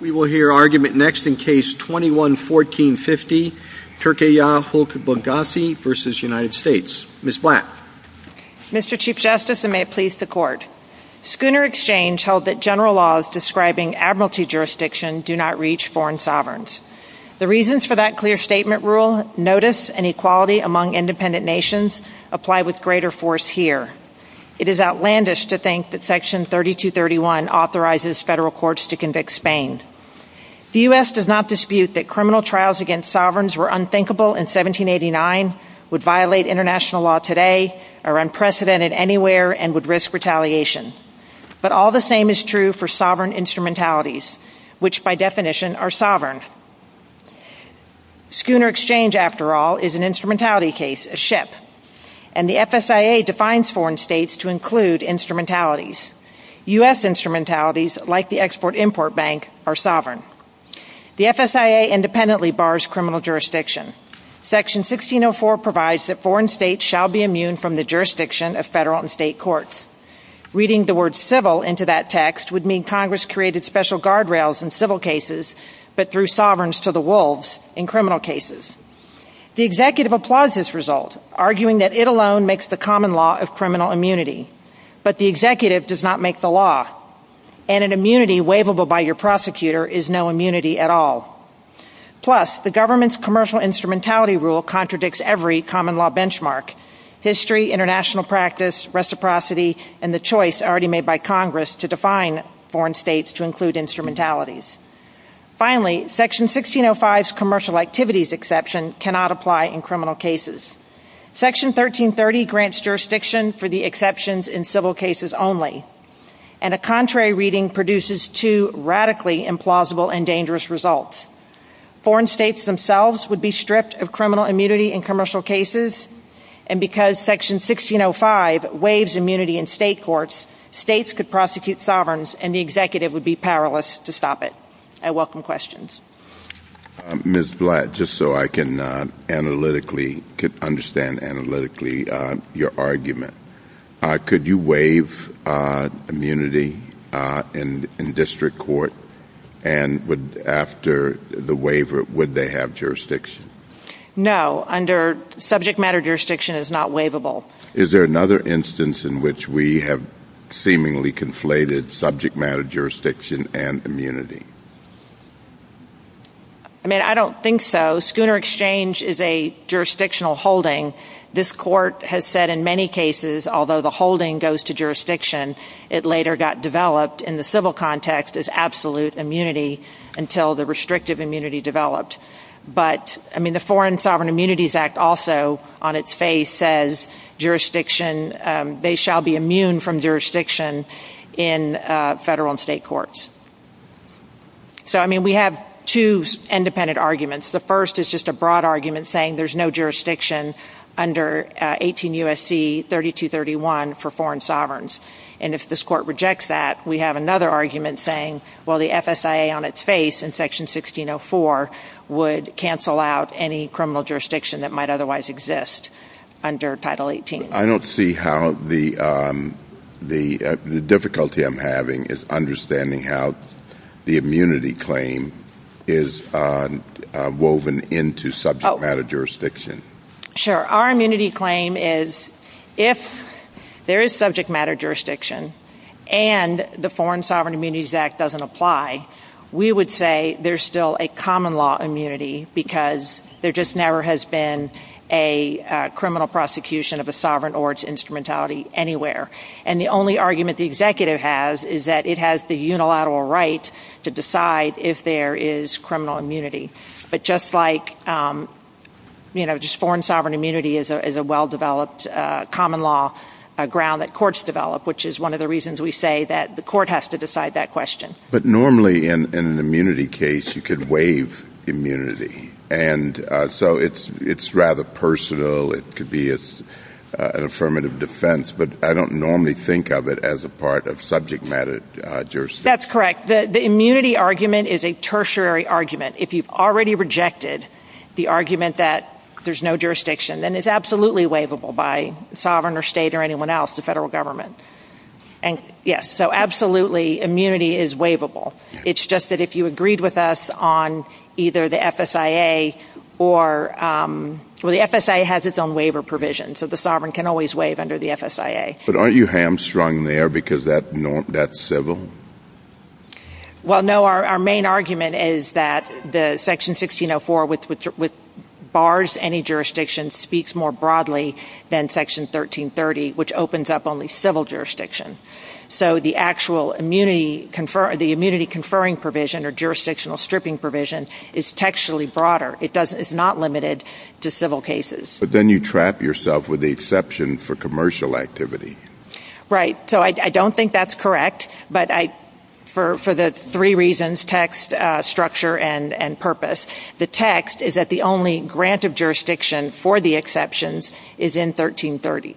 We will hear argument next in Case 21-1450, Turkiye Halk Bankasi A.S. v. United States. Ms. Black. Mr. Chief Justice, and may it please the Court, Schooner Exchange held that general laws describing admiralty jurisdiction do not reach foreign sovereigns. The reasons for that clear statement rule, notice, and equality among independent nations, apply with greater force here. It is outlandish to think that Section 3231 authorizes federal courts to convict Spain. The U.S. does not dispute that criminal trials against sovereigns were unthinkable in 1789, would violate international law today, are unprecedented anywhere, and would risk retaliation. But all the same is true for sovereign instrumentalities, which, by definition, are sovereign. Schooner Exchange, after all, is an instrumentality case, a ship. And the FSIA defines foreign states to include instrumentalities. U.S. instrumentalities, like the Export-Import Bank, are sovereign. The FSIA independently bars criminal jurisdiction. Section 1604 provides that foreign states shall be immune from the jurisdiction of federal and state courts. Reading the word civil into that text would mean Congress created special guardrails in civil cases, but threw sovereigns to the wolves in criminal cases. The executive applauds this result, arguing that it alone makes the common law of criminal immunity. But the executive does not make the law. And an immunity waivable by your prosecutor is no immunity at all. Plus, the government's commercial instrumentality rule contradicts every common law benchmark. History, international practice, reciprocity, and the choice already made by Congress to define foreign states to include instrumentalities. Finally, Section 1605's commercial activities exception cannot apply in criminal cases. Section 1330 grants jurisdiction for the exceptions in civil cases only. And a contrary reading produces two radically implausible and dangerous results. Foreign states themselves would be stripped of criminal immunity in commercial cases. And because Section 1605 waives immunity in state courts, states could prosecute sovereigns, and the executive would be powerless to stop it. I welcome questions. Ms. Blatt, just so I can understand analytically your argument, could you waive immunity in district court? And after the waiver, would they have jurisdiction? No. Under subject matter jurisdiction, it's not waivable. Is there another instance in which we have seemingly conflated subject matter jurisdiction and immunity? I mean, I don't think so. Schooner Exchange is a jurisdictional holding. This court has said in many cases, although the holding goes to jurisdiction, it later got developed in the civil context as absolute immunity until the restrictive immunity developed. But, I mean, the Foreign Sovereign Immunities Act also on its face says jurisdiction, they shall be immune from jurisdiction in federal and state courts. So, I mean, we have two independent arguments. The first is just a broad argument saying there's no jurisdiction under 18 U.S.C. 3231 for foreign sovereigns. And if this court rejects that, we have another argument saying, well, the FSIA on its face in Section 1604 would cancel out any criminal jurisdiction that might otherwise exist under Title 18. I don't see how the difficulty I'm having is understanding how the immunity claim is woven into subject matter jurisdiction. Sure. Our immunity claim is if there is subject matter jurisdiction and the Foreign Sovereign Immunities Act doesn't apply, we would say there's still a common law immunity because there just never has been a criminal prosecution of a sovereign or its instrumentality anywhere. And the only argument the executive has is that it has the unilateral right to decide if there is criminal immunity. But just like, you know, just foreign sovereign immunity is a well-developed common law ground that courts develop, which is one of the reasons we say that the court has to decide that question. But normally in an immunity case, you could waive immunity. And so it's rather personal. It could be an affirmative defense. But I don't normally think of it as a part of subject matter jurisdiction. That's correct. The immunity argument is a tertiary argument. If you've already rejected the argument that there's no jurisdiction, then it's absolutely waivable by sovereign or state or anyone else, the federal government. And yes, so absolutely, immunity is waivable. It's just that if you agreed with us on either the FSIA or – well, the FSIA has its own waiver provision, so the sovereign can always waive under the FSIA. But aren't you hamstrung there because that's civil? Well, no, our main argument is that the Section 1604, which bars any jurisdiction, speaks more broadly than Section 1330, which opens up only civil jurisdiction. So the actual immunity conferring provision or jurisdictional stripping provision is textually broader. It's not limited to civil cases. But then you trap yourself with the exception for commercial activity. Right. So I don't think that's correct. But for the three reasons, text, structure, and purpose, the text is that the only grant of jurisdiction for the exceptions is in 1330.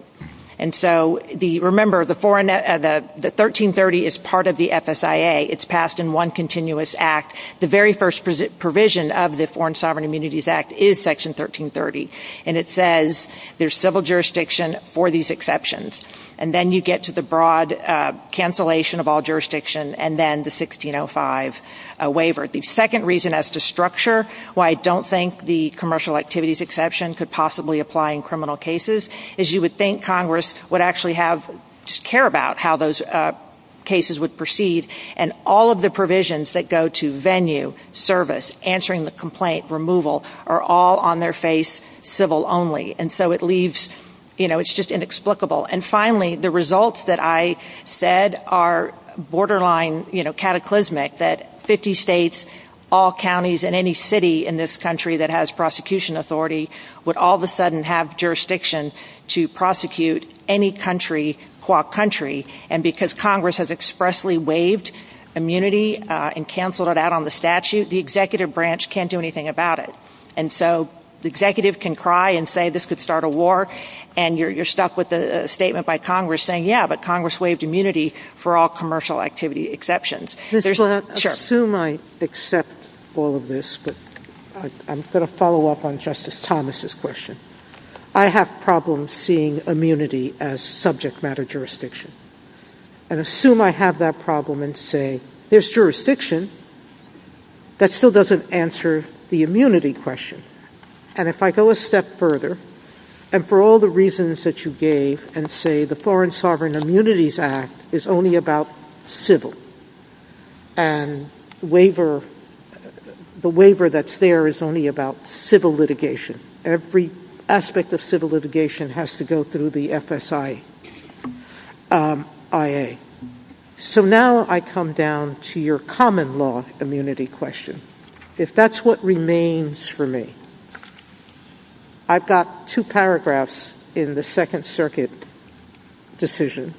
And so remember, the 1330 is part of the FSIA. It's passed in one continuous act. The very first provision of the Foreign Sovereign Immunities Act is Section 1330. And it says there's civil jurisdiction for these exceptions. And then you get to the broad cancellation of all jurisdiction and then the 1605 waiver. The second reason as to structure, why I don't think the commercial activities exception could possibly apply in criminal cases, is you would think Congress would actually care about how those cases would proceed. And all of the provisions that go to venue, service, answering the complaint, removal, are all on their face civil only. And so it leaves, you know, it's just inexplicable. And finally, the results that I said are borderline, you know, cataclysmic, that 50 states, all counties, and any city in this country that has prosecution authority would all of a sudden have jurisdiction to prosecute any country qua country. And because Congress has expressly waived immunity and canceled it out on the statute, the executive branch can't do anything about it. And so the executive can cry and say this could start a war, and you're stuffed with a statement by Congress saying, yeah, but Congress waived immunity for all commercial activity exceptions. Ms. Brown, assume I accept all of this, but I'm going to follow up on Justice Thomas's question. I have problems seeing immunity as subject matter jurisdiction. And assume I have that problem and say there's jurisdiction, that still doesn't answer the immunity question. And if I go a step further, and for all the reasons that you gave, and say the Foreign Sovereign Immunities Act is only about civil and the waiver that's there is only about civil litigation. Every aspect of civil litigation has to go through the FSIA. So now I come down to your common law immunity question. If that's what remains for me, I've got two paragraphs in the Second Circuit decision.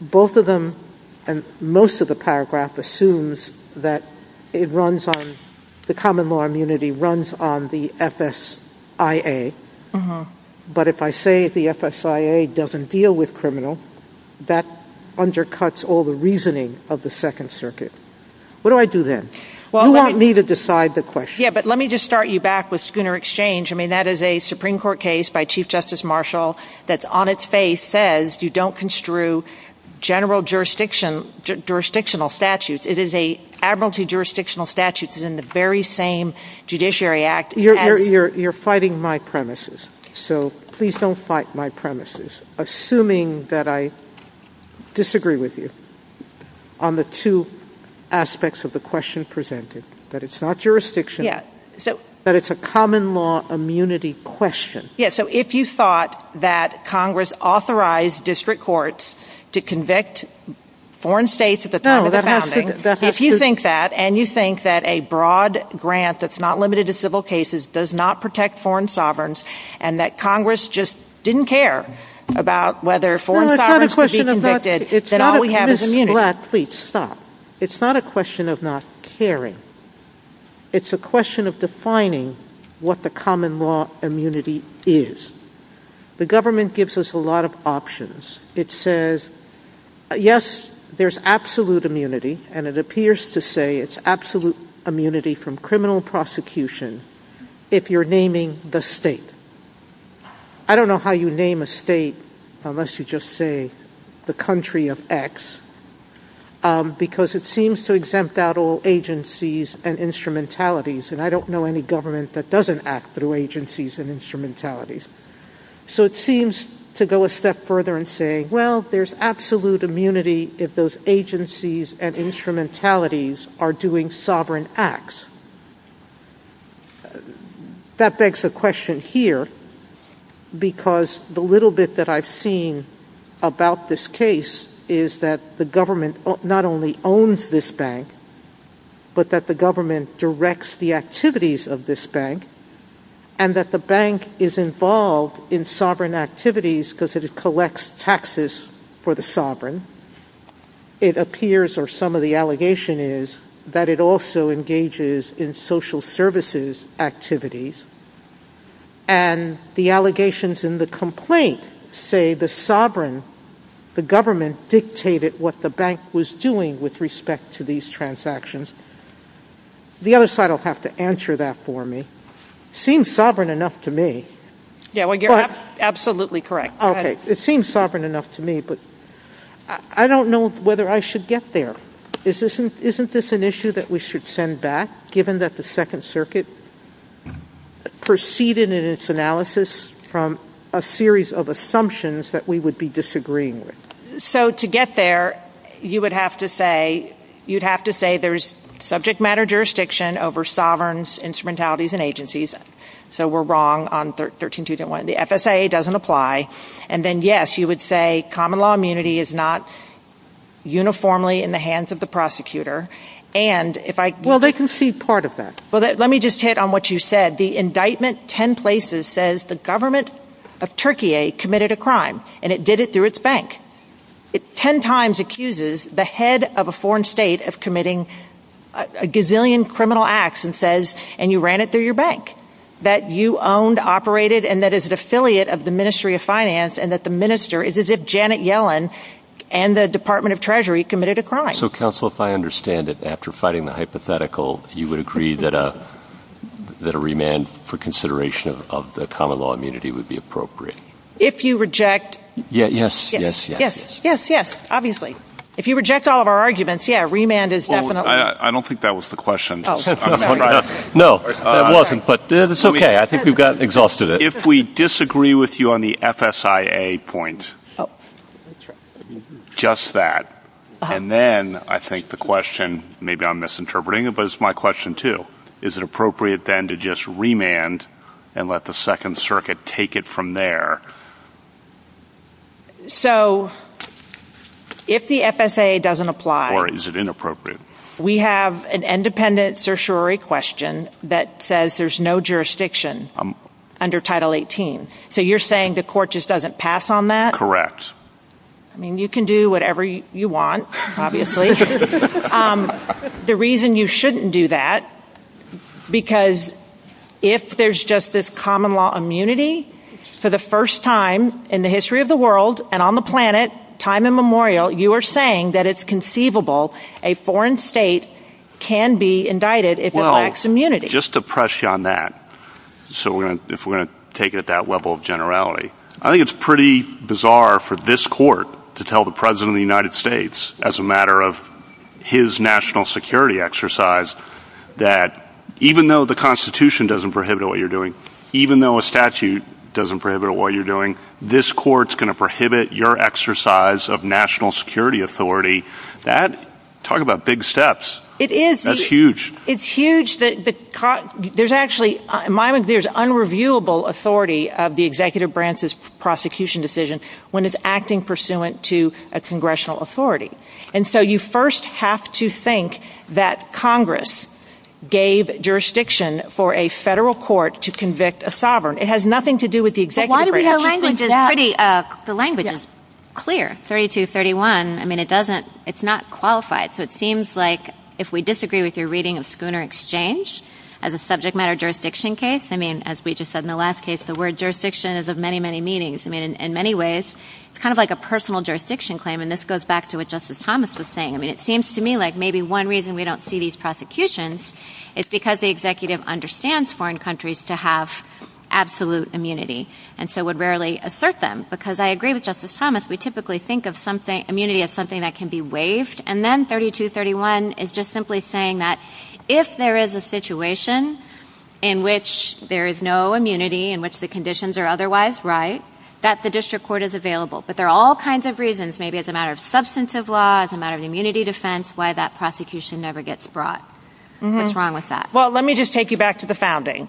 Both of them, and most of the paragraph assumes that it runs on, the common law immunity runs on the FSIA. But if I say the FSIA doesn't deal with criminal, that undercuts all the reasoning of the Second Circuit. What do I do then? You want me to decide the question. Yeah, but let me just start you back with Schooner Exchange. I mean, that is a Supreme Court case by Chief Justice Marshall that's on its face says you don't construe general jurisdictional statutes. It is an admiralty jurisdictional statute. It's in the very same Judiciary Act. You're fighting my premises. So please don't fight my premises. Assuming that I disagree with you on the two aspects of the question presented, that it's not jurisdiction, that it's a common law immunity question. Yeah, so if you thought that Congress authorized district courts to convict foreign states at the time of the founding, if you think that, and you think that a broad grant that's not limited to civil cases does not protect foreign sovereigns, and that Congress just didn't care about whether foreign sovereigns could be convicted, then all we have is immunity. It's not a question of not caring. It's a question of defining what the common law immunity is. The government gives us a lot of options. It says, yes, there's absolute immunity, and it appears to say it's absolute immunity from criminal prosecution if you're naming the state. I don't know how you name a state unless you just say the country of X, because it seems to exempt out all agencies and instrumentalities, and I don't know any government that doesn't act through agencies and instrumentalities. So it seems to go a step further in saying, well, there's absolute immunity if those agencies and instrumentalities are doing sovereign acts. That begs the question here, because the little bit that I've seen about this case is that the government not only owns this bank, but that the government directs the activities of this bank, and that the bank is involved in sovereign activities because it collects taxes for the sovereign. It appears, or some of the allegation is, that it also engages in social services activities, and the allegations in the complaint say the sovereign, the government dictated what the bank was doing with respect to these transactions. The other side will have to answer that for me. It seems sovereign enough to me. Yeah, you're absolutely correct. Okay, it seems sovereign enough to me, but I don't know whether I should get there. Isn't this an issue that we should send back, given that the Second Circuit proceeded in its analysis from a series of assumptions that we would be disagreeing with? So to get there, you would have to say there's subject matter jurisdiction over sovereigns, instrumentalities, and agencies, so we're wrong on 13.2.1. The FSIA doesn't apply, and then, yes, you would say common law immunity is not uniformly in the hands of the prosecutor. Well, they can see part of that. Let me just hit on what you said. The indictment ten places says the government of Turkey committed a crime, and it did it through its bank. It ten times accuses the head of a foreign state of committing a gazillion criminal acts and says, and you ran it through your bank, that you owned, operated, and that is an affiliate of the Ministry of Finance, and that the minister is as if Janet Yellen and the Department of Treasury committed a crime. So, counsel, if I understand it, after fighting the hypothetical, you would agree that a remand for consideration of the common law immunity would be appropriate. If you reject. Yes, yes, yes. Yes, yes, yes, obviously. If you reject all of our arguments, yeah, remand is definitely. I don't think that was the question. No, it wasn't, but it's okay. I think we've got exhausted it. If we disagree with you on the FSIA point, just that, and then I think the question, maybe I'm misinterpreting it, but it's my question too. Is it appropriate then to just remand and let the Second Circuit take it from there? So, if the FSIA doesn't apply. Or is it inappropriate? We have an independent certiorari question that says there's no jurisdiction under Title 18. So you're saying the court just doesn't pass on that? Correct. I mean, you can do whatever you want, obviously. The reason you shouldn't do that, because if there's just this common law immunity, for the first time in the history of the world and on the planet, time immemorial, you are saying that it's conceivable a foreign state can be indicted if it lacks immunity. Well, just to press you on that, if we're going to take it at that level of generality, I think it's pretty bizarre for this court to tell the President of the United States, as a matter of his national security exercise, that even though the Constitution doesn't prohibit what you're doing, even though a statute doesn't prohibit what you're doing, this court's going to prohibit your exercise of national security authority. Talk about big steps. It is. That's huge. It's huge. There's unreviewable authority of the executive branch's prosecution decision when it's acting pursuant to a congressional authority. And so you first have to think that Congress gave jurisdiction for a federal court to convict a sovereign. It has nothing to do with the executive branch. The language is clear, 3231. I mean, it's not qualified. So it seems like if we disagree with your reading of Schooner Exchange, as a subject matter jurisdiction case, I mean, as we just said in the last case, the word jurisdiction is of many, many meanings. I mean, in many ways, it's kind of like a personal jurisdiction claim, and this goes back to what Justice Thomas was saying. I mean, it seems to me like maybe one reason we don't see these prosecutions is because the executive understands foreign countries to have absolute immunity and so would rarely assert them. Because I agree with Justice Thomas, we typically think of immunity as something that can be waived, and then 3231 is just simply saying that if there is a situation in which there is no immunity, in which the conditions are otherwise right, that the district court is available. But there are all kinds of reasons, maybe as a matter of substantive law, as a matter of immunity defense, why that prosecution never gets brought. What's wrong with that? Well, let me just take you back to the founding.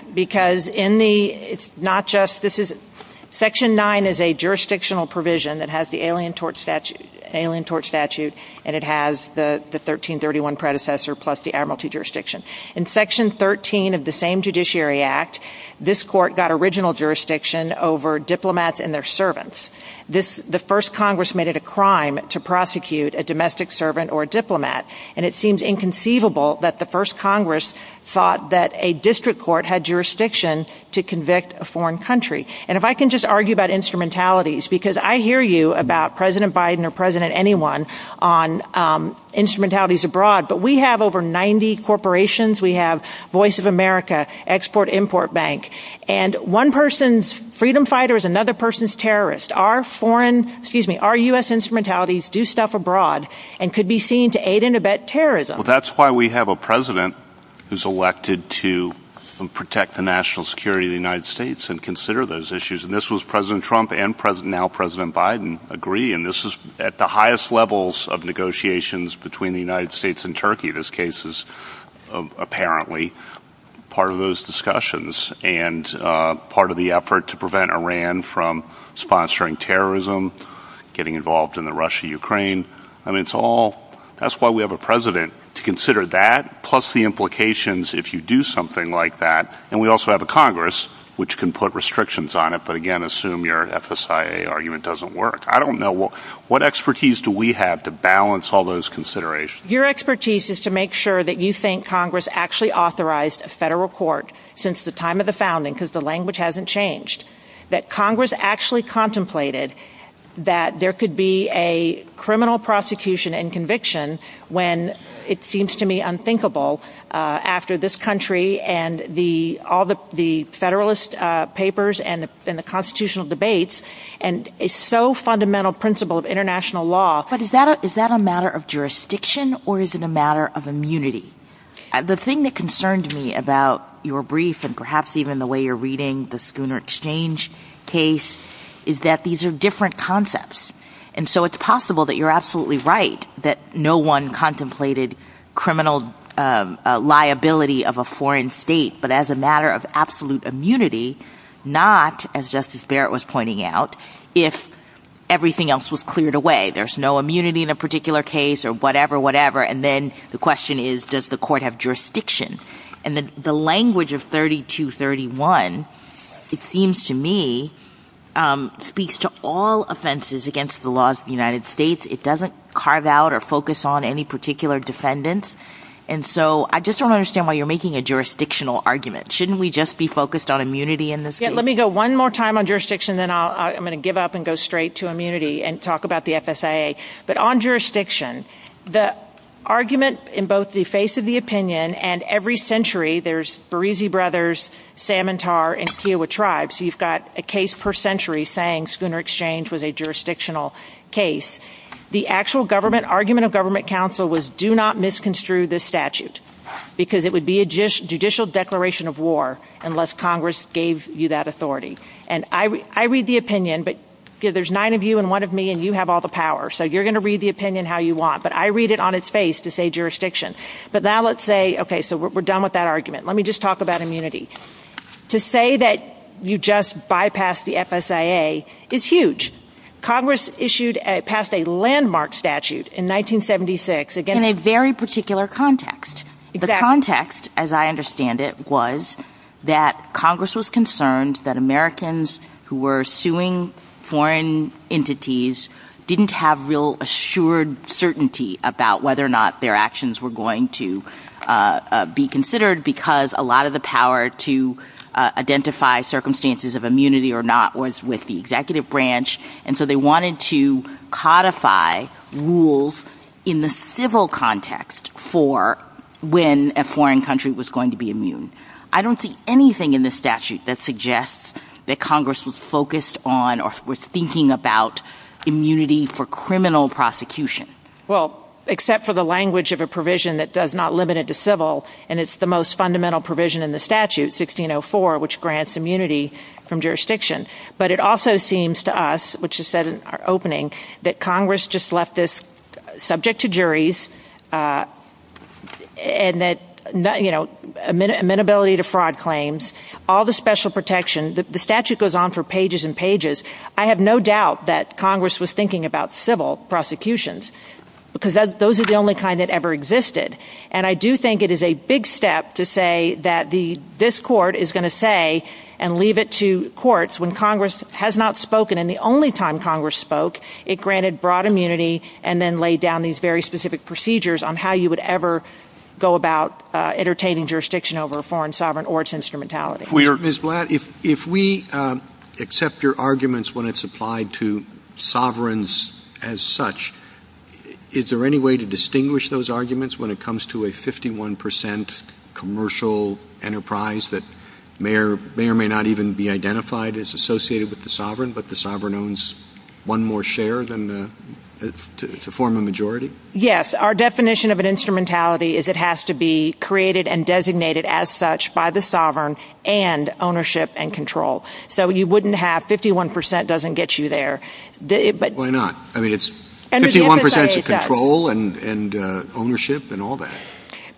Section 9 is a jurisdictional provision that has the Alien Tort Statute and it has the 1331 predecessor plus the admiralty jurisdiction. In Section 13 of the same Judiciary Act, this court got original jurisdiction over diplomats and their servants. The first Congress made it a crime to prosecute a domestic servant or a diplomat, and it seems inconceivable that the first Congress thought that a district court had jurisdiction to convict a foreign country. And if I can just argue about instrumentalities, because I hear you about President Biden or President anyone on instrumentalities abroad, but we have over 90 corporations, we have Voice of America, Export-Import Bank, and one person's freedom fighter is another person's terrorist. Our U.S. instrumentalities do stuff abroad and could be seen to aid and abet terrorism. Well, that's why we have a president who's elected to protect the national security of the United States and consider those issues, and this was President Trump and now President Biden agree, and this is at the highest levels of negotiations between the United States and Turkey. This case is apparently part of those discussions and part of the effort to prevent Iran from sponsoring terrorism, getting involved in the Russia-Ukraine. That's why we have a president to consider that, plus the implications if you do something like that. And we also have a Congress which can put restrictions on it, but again, assume your FSIA argument doesn't work. I don't know. What expertise do we have to balance all those considerations? Your expertise is to make sure that you think Congress actually authorized a federal court since the time of the founding, because the language hasn't changed, that Congress actually contemplated that there could be a criminal prosecution and conviction when it seems to me unthinkable after this country and all the federalist papers and the constitutional debates and a so fundamental principle of international law. But is that a matter of jurisdiction or is it a matter of immunity? The thing that concerned me about your brief and perhaps even the way you're reading the Schooner exchange case is that these are different concepts, and so it's possible that you're absolutely right that no one contemplated criminal liability of a foreign state, but as a matter of absolute immunity, not as Justice Barrett was pointing out, if everything else was cleared away. There's no immunity in a particular case or whatever, whatever. And then the question is, does the court have jurisdiction? And the language of 3231, it seems to me, speaks to all offenses against the laws of the United States. It doesn't carve out or focus on any particular defendant. And so I just don't understand why you're making a jurisdictional argument. Shouldn't we just be focused on immunity in this case? So one more time on jurisdiction, then I'm going to give up and go straight to immunity and talk about the FSIA. But on jurisdiction, the argument in both the face of the opinion and every century, there's Berizi brothers, Samantar, and Kiowa tribes. You've got a case per century saying Schooner exchange was a jurisdictional case. The actual government argument of government counsel was do not misconstrue this statute because it would be a judicial declaration of war unless Congress gave you that authority. And I read the opinion, but there's nine of you and one of me, and you have all the power. So you're going to read the opinion how you want. But I read it on its face to say jurisdiction. But now let's say, OK, so we're done with that argument. Let me just talk about immunity. To say that you just bypassed the FSIA is huge. Congress issued past a landmark statute in 1976. In a very particular context. The context, as I understand it, was that Congress was concerned that Americans who were suing foreign entities didn't have real assured certainty about whether or not their actions were going to be considered because a lot of the power to identify circumstances of immunity or not was with the executive branch. And so they wanted to codify rules in the civil context for when a foreign country was going to be immune. I don't see anything in the statute that suggests that Congress was focused on or was thinking about immunity for criminal prosecution. Well, except for the language of a provision that does not limit it to civil, and it's the most fundamental provision in the statute, 1604, which grants immunity from jurisdiction. But it also seems to us, which is said in our opening, that Congress just left this subject to juries and that, you know, amenability to fraud claims, all the special protections. The statute goes on for pages and pages. I have no doubt that Congress was thinking about civil prosecutions because those are the only kind that ever existed. And I do think it is a big step to say that this court is going to say and leave it to courts when Congress has not spoken and the only time Congress spoke, it granted broad immunity and then laid down these very specific procedures on how you would ever go about entertaining jurisdiction over a foreign sovereign or its instrumentality. Ms. Blatt, if we accept your arguments when it's applied to sovereigns as such, is there any way to distinguish those arguments when it comes to a 51% commercial enterprise that may or may not even be identified as associated with the sovereign, but the sovereign owns one more share to form a majority? Yes. Our definition of an instrumentality is it has to be created and designated as such by the sovereign and ownership and control. So you wouldn't have 51% doesn't get you there. Why not? I mean it's 51% control and ownership and all that.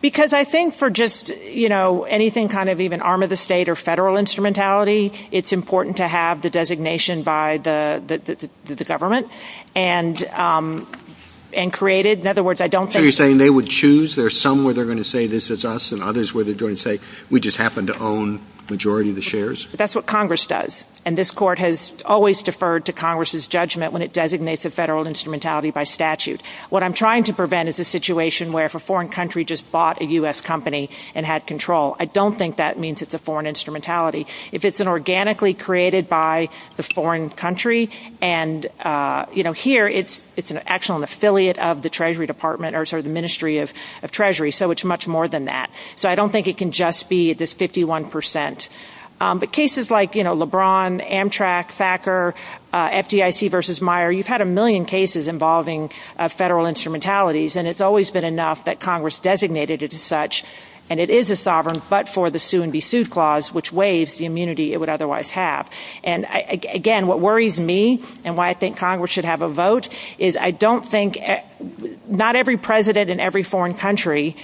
Because I think for just anything kind of even arm of the state or federal instrumentality, it's important to have the designation by the government and created. So you're saying they would choose? There are some where they're going to say this is us and others where they're going to say we just happen to own the majority of the shares? That's what Congress does. And this court has always deferred to Congress's judgment when it designates a federal instrumentality by statute. What I'm trying to prevent is a situation where if a foreign country just bought a U.S. company and had control. I don't think that means it's a foreign instrumentality. If it's an organically created by the foreign country, and here it's actually an affiliate of the Treasury Department or the Ministry of Treasury, so it's much more than that. So I don't think it can just be this 51%. But cases like, you know, LeBron, Amtrak, Thacker, FDIC versus Meijer, you've had a million cases involving federal instrumentalities, and it's always been enough that Congress designated it as such, and it is a sovereign but for the sue and be sued clause, which weighs the immunity it would otherwise have. And, again, what worries me and why I think Congress should have a vote is I don't think not every president in every foreign country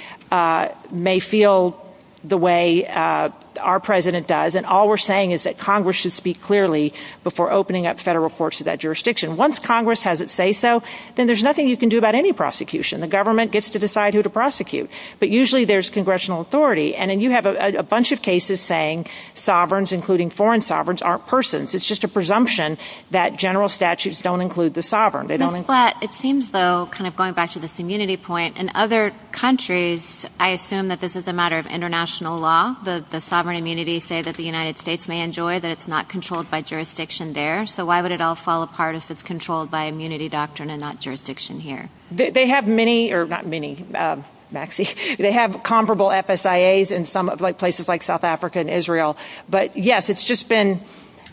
may feel the way our president does, and all we're saying is that Congress should speak clearly before opening up federal courts to that jurisdiction. Once Congress has it say so, then there's nothing you can do about any prosecution. The government gets to decide who to prosecute. But usually there's congressional authority, and then you have a bunch of cases saying sovereigns, including foreign sovereigns, aren't persons. It's just a presumption that general statutes don't include the sovereign. But it seems, though, kind of going back to this immunity point, in other countries I assume that this is a matter of international law, that the sovereign immunity say that the United States may enjoy, that it's not controlled by jurisdiction there. So why would it all fall apart if it's controlled by immunity doctrine and not jurisdiction here? They have many, or not many, Maxie. They have comparable FSIAs in some places like South Africa and Israel. But, yes, it's just been,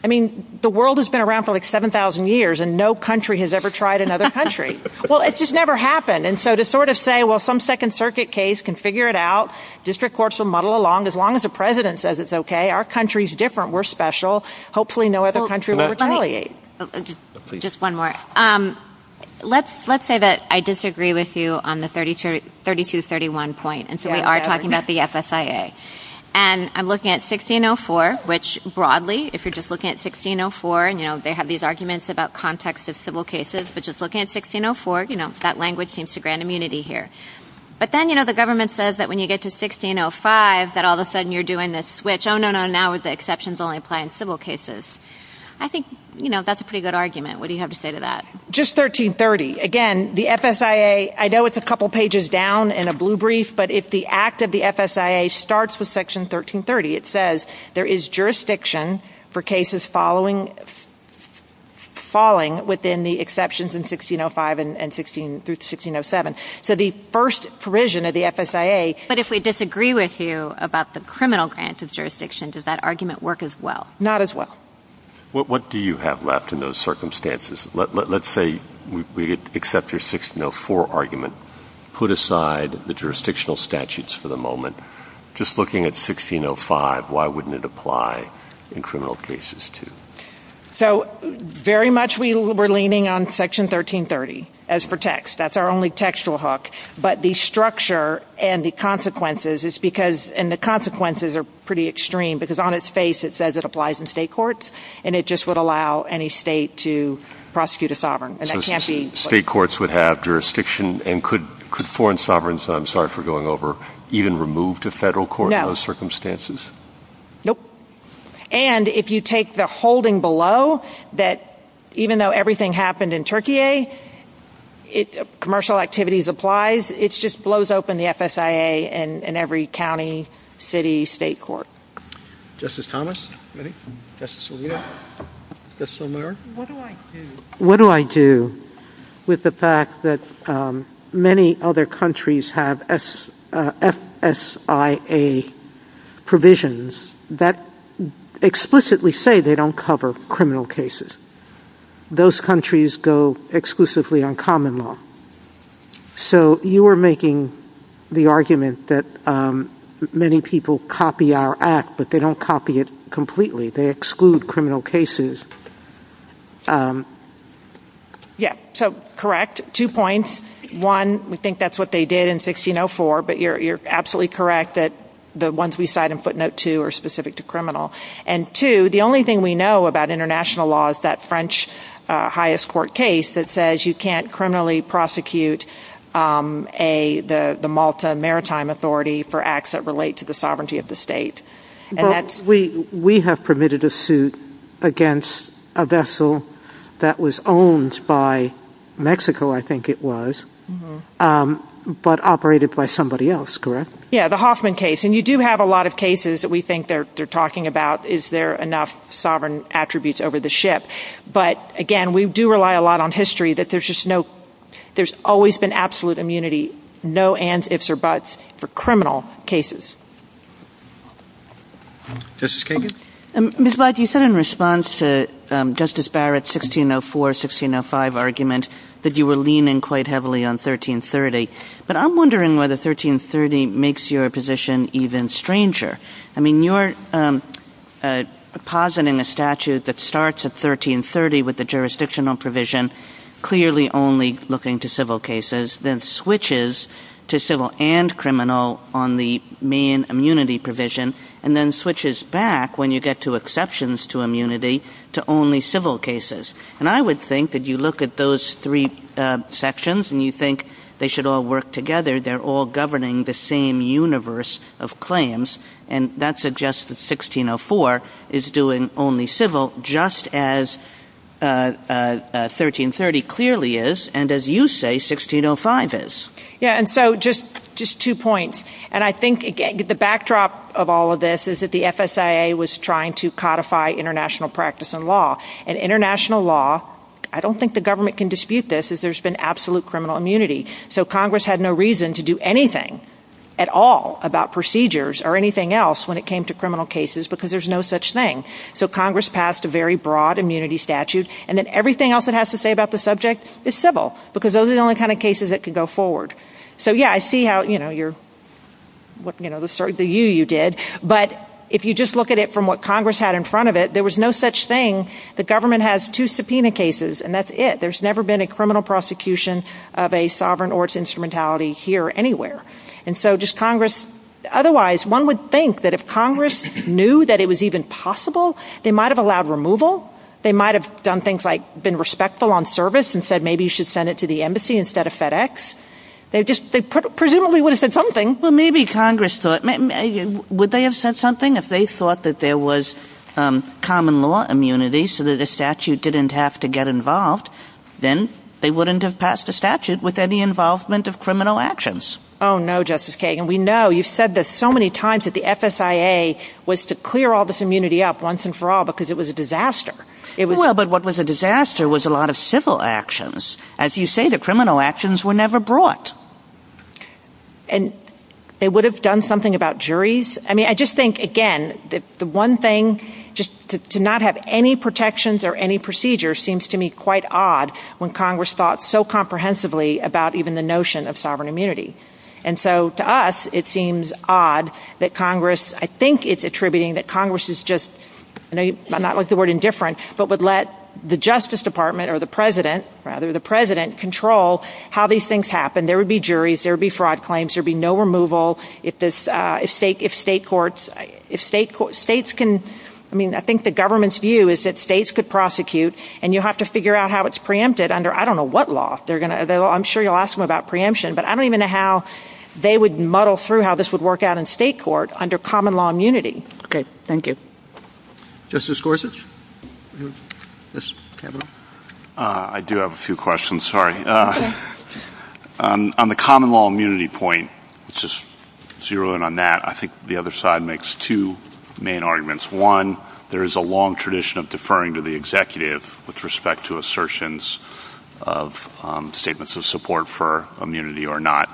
I mean, the world has been around for like 7,000 years, and no country has ever tried another country. Well, it just never happened. And so to sort of say, well, some Second Circuit case can figure it out. District courts will muddle along as long as the president says it's okay. Our country's different. We're special. Hopefully no other country will retaliate. Just one more. Let's say that I disagree with you on the 3231 point, and so we are talking about the FSIA. And I'm looking at 1604, which broadly, if you're just looking at 1604, you know, they have these arguments about context of civil cases. But just looking at 1604, you know, that language seems to grant immunity here. But then, you know, the government says that when you get to 1605 that all of a sudden you're doing this switch. Oh, no, no, now the exceptions only apply in civil cases. I think, you know, that's a pretty good argument. What do you have to say to that? Just 1330. Again, the FSIA, I know it's a couple pages down in a blue brief, but if the act of the FSIA starts with Section 1330, it says there is jurisdiction for cases falling within the exceptions in 1605 through 1607. So the first provision of the FSIA. But if we disagree with you about the criminal grant of jurisdiction, does that argument work as well? Not as well. What do you have left in those circumstances? Let's say we accept your 1604 argument, put aside the jurisdictional statutes for the moment. Just looking at 1605, why wouldn't it apply in criminal cases too? So very much we were leaning on Section 1330 as per text. That's our only textual hook. But the structure and the consequences are pretty extreme because on its face it says it applies in state courts, and it just would allow any state to prosecute a sovereign. So state courts would have jurisdiction and could foreign sovereigns, I'm sorry for going over, even remove to federal court in those circumstances? No. And if you take the holding below that even though everything happened in Turkey, commercial activities applies, it just blows open the FSIA in every county, city, state court. Justice Thomas? Justice Scalia? Justice O'Mara? What do I do with the fact that many other countries have FSIA provisions that explicitly say they don't cover criminal cases? Those countries go exclusively on common law. So you are making the argument that many people copy our act, but they don't copy it completely. They exclude criminal cases. Yes. So correct. Two points. One, we think that's what they did in 1604, but you're absolutely correct that the ones we cite in footnote two are specific to criminal. And two, the only thing we know about international law is that French highest court case that says you can't criminally prosecute the Malta Maritime Authority for acts that relate to the sovereignty of the state. We have permitted a suit against a vessel that was owned by Mexico, I think it was, but operated by somebody else, correct? Yes, the Hoffman case. And you do have a lot of cases that we think they're talking about, is there enough sovereign attributes over the ship. But again, we do rely a lot on history that there's always been absolute immunity, no ands, ifs, or buts for criminal cases. Justice Kagan? Ms. Lodge, you said in response to Justice Barrett's 1604, 1605 argument that you were leaning quite heavily on 1330. But I'm wondering whether 1330 makes your position even stranger. I mean, you're depositing a statute that starts at 1330 with the jurisdictional provision, clearly only looking to civil cases, then switches to civil and criminal on the main immunity provision, and then switches back when you get to exceptions to immunity to only civil cases. And I would think that you look at those three sections and you think they should all work together, they're all governing the same universe of claims, and that suggests that 1604 is doing only civil, just as 1330 clearly is, and as you say, 1605 is. Yeah, and so just two points. And I think the backdrop of all of this is that the FSIA was trying to codify international practice and law. And international law, I don't think the government can dispute this, is there's been absolute criminal immunity. So Congress had no reason to do anything at all about procedures or anything else when it came to criminal cases, because there's no such thing. So Congress passed a very broad immunity statute, and then everything else it has to say about the subject is civil, because those are the only kind of cases that can go forward. So yeah, I see how, you know, the you you did. But if you just look at it from what Congress had in front of it, there was no such thing. The government has two subpoena cases, and that's it. There's never been a criminal prosecution of a sovereign or its instrumentality here or anywhere. And so just Congress. Otherwise, one would think that if Congress knew that it was even possible, they might have allowed removal. They might have done things like been respectful on service and said, maybe you should send it to the embassy instead of FedEx. They just presumably would have said something. Well, maybe Congress thought, would they have said something if they thought that there was common law immunity so that the statute didn't have to get involved? Then they wouldn't have passed a statute with any involvement of criminal actions. Oh, no, Justice Kagan. We know you've said this so many times that the FSIA was to clear all this immunity up once and for all because it was a disaster. Well, but what was a disaster was a lot of civil actions. As you say, the criminal actions were never brought. And they would have done something about juries. I mean, I just think, again, that the one thing just to not have any protections or any procedure seems to me quite odd when Congress thought so comprehensively about even the notion of sovereign immunity. And so to us, it seems odd that Congress, I think it's attributing that Congress is just not like the word indifferent, but would let the Justice Department or the president rather the president control how these things happen. There would be juries. There would be fraud claims. There would be no removal if state courts, states can, I mean, I think the government's view is that states could prosecute, and you have to figure out how it's preempted under I don't know what law. I'm sure you'll ask them about preemption, but I don't even know how they would muddle through how this would work out in state court under common law immunity. Okay, thank you. Justice Gorsuch? I do have a few questions, sorry. On the common law immunity point, it's just zero in on that. I think the other side makes two main arguments. One, there is a long tradition of deferring to the executive with respect to assertions of statements of support for immunity or not.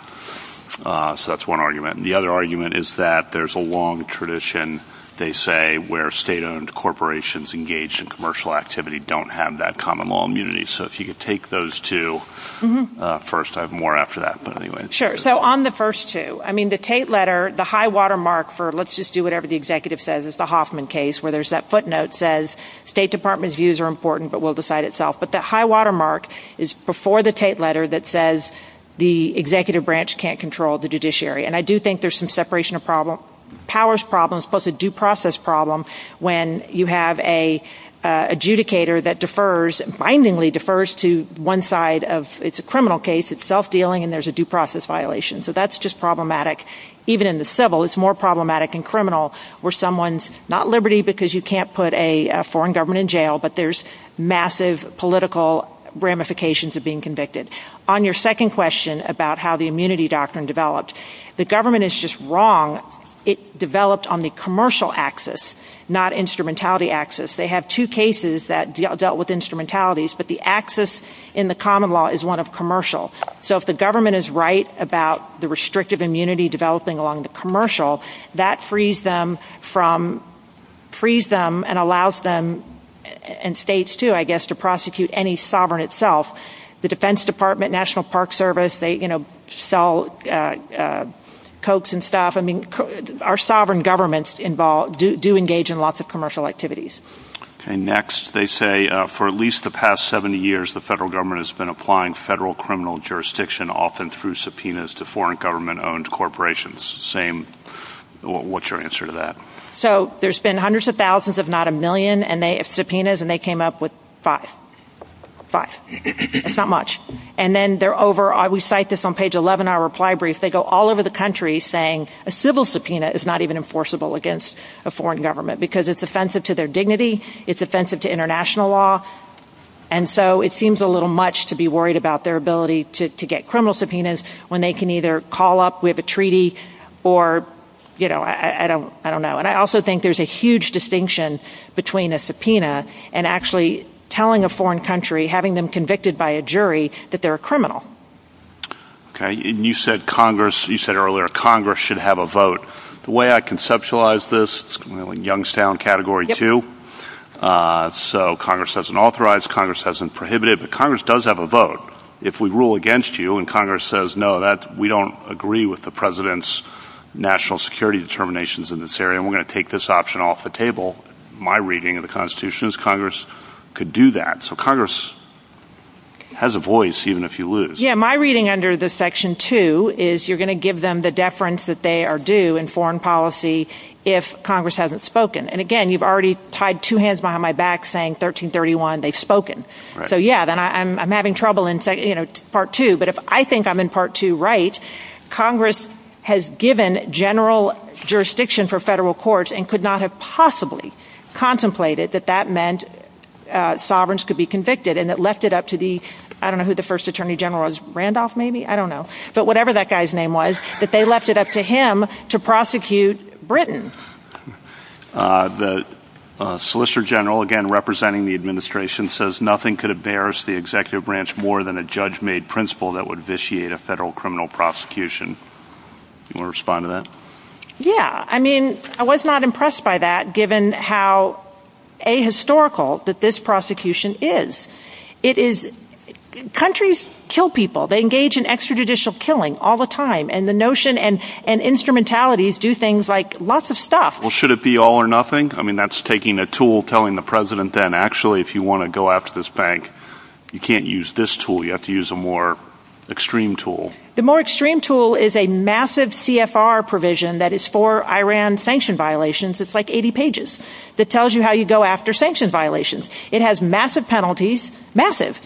So that's one argument. The other argument is that there's a long tradition, they say, where state-owned corporations engaged in commercial activity don't have that common law immunity. So if you could take those two first. I have more after that, but anyway. Sure. So on the first two, I mean, the Tate letter, the high watermark for let's just do whatever the executive says, it's the Hoffman case where there's that footnote that says state department's views are important but will decide itself. But that high watermark is before the Tate letter that says the executive branch can't control the judiciary. And I do think there's some separation of powers problems plus a due process problem when you have an adjudicator that defers, bindingly defers to one side of it's a criminal case, it's self-dealing, and there's a due process violation. So that's just problematic. Even in the civil, it's more problematic in criminal where someone's not liberty because you can't put a foreign government in jail, but there's massive political ramifications of being convicted. On your second question about how the immunity doctrine developed, the government is just wrong. It developed on the commercial axis, not instrumentality axis. They have two cases that dealt with instrumentalities, but the axis in the common law is one of commercial. So if the government is right about the restrictive immunity developing along the commercial, that frees them and allows them, and states too, I guess, to prosecute any sovereign itself. The Defense Department, National Park Service, they sell coats and stuff. I mean, our sovereign governments do engage in lots of commercial activities. And next, they say for at least the past 70 years, the federal government has been applying federal criminal jurisdiction often through subpoenas to foreign government-owned corporations. What's your answer to that? So there's been hundreds of thousands, if not a million, of subpoenas, and they came up with five. Five. It's not much. And then they're over, we cite this on page 11 in our reply brief, they go all over the country saying a civil subpoena is not even enforceable against a foreign government because it's offensive to their dignity, it's offensive to international law. And so it seems a little much to be worried about their ability to get criminal subpoenas when they can either call up, we have a treaty, or, you know, I don't know. And I also think there's a huge distinction between a subpoena and actually telling a foreign country, having them convicted by a jury, that they're a criminal. Okay, and you said earlier Congress should have a vote. The way I conceptualize this, Youngstown Category 2, so Congress doesn't authorize, Congress doesn't prohibit it, but Congress does have a vote. But if we rule against you and Congress says, no, we don't agree with the President's national security determinations in this area and we're going to take this option off the table, my reading of the Constitution is Congress could do that. So Congress has a voice even if you lose. Yeah, my reading under this Section 2 is you're going to give them the deference that they are due in foreign policy if Congress hasn't spoken. And again, you've already tied two hands behind my back saying 1331, they've spoken. So yeah, then I'm having trouble in Part 2. But if I think I'm in Part 2 right, Congress has given general jurisdiction for federal courts and could not have possibly contemplated that that meant sovereigns could be convicted and it left it up to the, I don't know who the first Attorney General was, Randolph maybe? I don't know. But whatever that guy's name was, that they left it up to him to prosecute Britain. The Solicitor General, again, representing the administration says, nothing could embarrass the executive branch more than a judge-made principle that would vitiate a federal criminal prosecution. You want to respond to that? Yeah, I mean, I was not impressed by that given how ahistorical that this prosecution is. It is, countries kill people, they engage in extrajudicial killing all the time and the notion and instrumentalities do things like lots of stuff. Well, should it be all or nothing? I mean, that's taking a tool, telling the president that actually if you want to go after this bank, you can't use this tool, you have to use a more extreme tool. The more extreme tool is a massive CFR provision that is for Iran sanction violations. It's like 80 pages that tells you how you go after sanction violations. It has massive penalties, massive.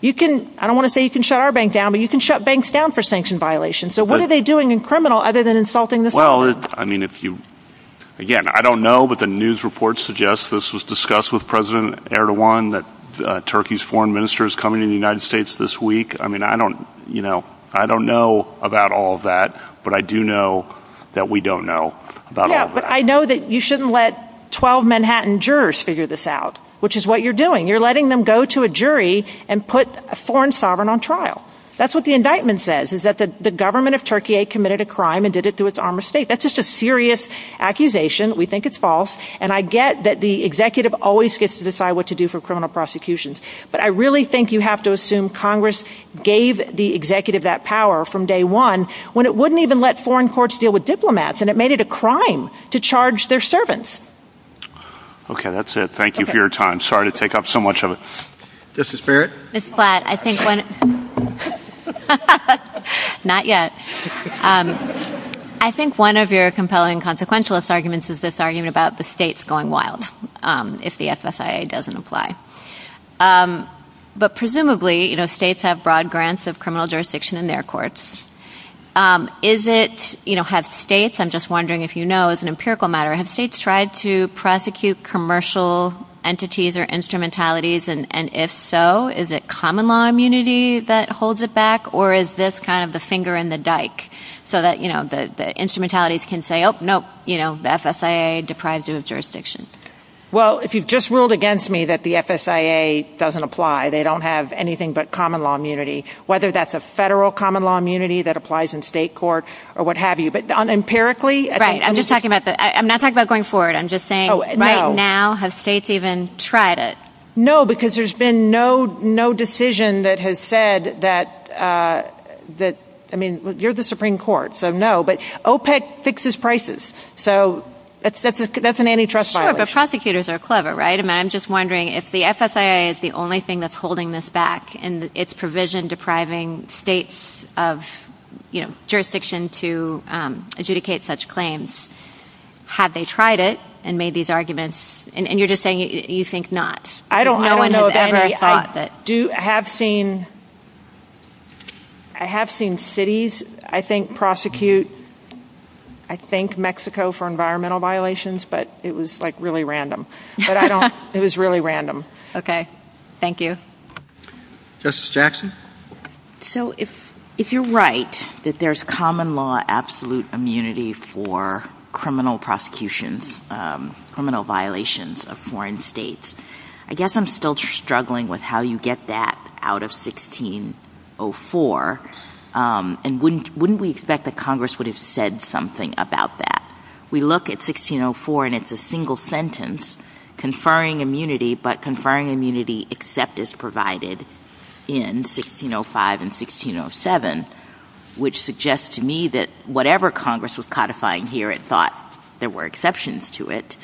You can, I don't want to say you can shut our bank down, but you can shut banks down for sanction violations. So what are they doing in criminal other than insulting the sovereign? Well, I mean, if you, again, I don't know, but the news reports suggest this was discussed with President Erdogan that Turkey's foreign minister is coming to the United States this week. I mean, I don't, you know, I don't know about all that, but I do know that we don't know about all that. Yeah, but I know that you shouldn't let 12 Manhattan jurors figure this out, which is what you're doing. You're letting them go to a jury and put a foreign sovereign on trial. That's what the indictment says is that the government of Turkey committed a crime and did it through its arm of state. That's just a serious accusation. We think it's false. And I get that the executive always gets to decide what to do for criminal prosecutions. But I really think you have to assume Congress gave the executive that power from day one when it wouldn't even let foreign courts deal with diplomats and it made it a crime to charge their servants. Okay, that's it. Thank you for your time. Sorry to take up so much of it. Justice Barrett? Ms. Platt, I think one of your compelling consequentialist arguments is this argument about the states going wild if the FSIA doesn't apply. But presumably, you know, states have broad grants of criminal jurisdiction in their courts. Is it, you know, have states, I'm just wondering if you know as an empirical matter, have states tried to prosecute commercial entities or instrumentalities? And if so, is it common law immunity that holds it back or is this kind of the finger in the dike? So that, you know, the instrumentalities can say, oh, no, you know, the FSIA deprives you of jurisdiction. Well, if you've just ruled against me that the FSIA doesn't apply, they don't have anything but common law immunity, whether that's a federal common law immunity that applies in state court or what have you. But empirically… Right, I'm just talking about, I'm not talking about going forward. I'm just saying, right now, have states even tried it? No, because there's been no decision that has said that, I mean, you're the Supreme Court, so no. But OPEC fixes prices, so that's an antitrust violation. Sure, but prosecutors are clever, right? And I'm just wondering if the FSIA is the only thing that's holding this back and its provision depriving states of, you know, jurisdiction to adjudicate such claims. Have they tried it and made these arguments? And you're just saying you think not. I don't know if anybody has thought that. I have seen cities, I think, prosecute, I think, Mexico for environmental violations, but it was, like, really random. But I don't, it was really random. Okay, thank you. Justice Jackson? So, if you're right, that there's common law absolute immunity for criminal prosecutions, criminal violations of foreign states, I guess I'm still struggling with how you get that out of 1604. And wouldn't we expect that Congress would have said something about that? We look at 1604 and it's a single sentence, conferring immunity, but conferring immunity except as provided in 1605 and 1607, which suggests to me that whatever Congress was codifying here, it thought there were exceptions to it.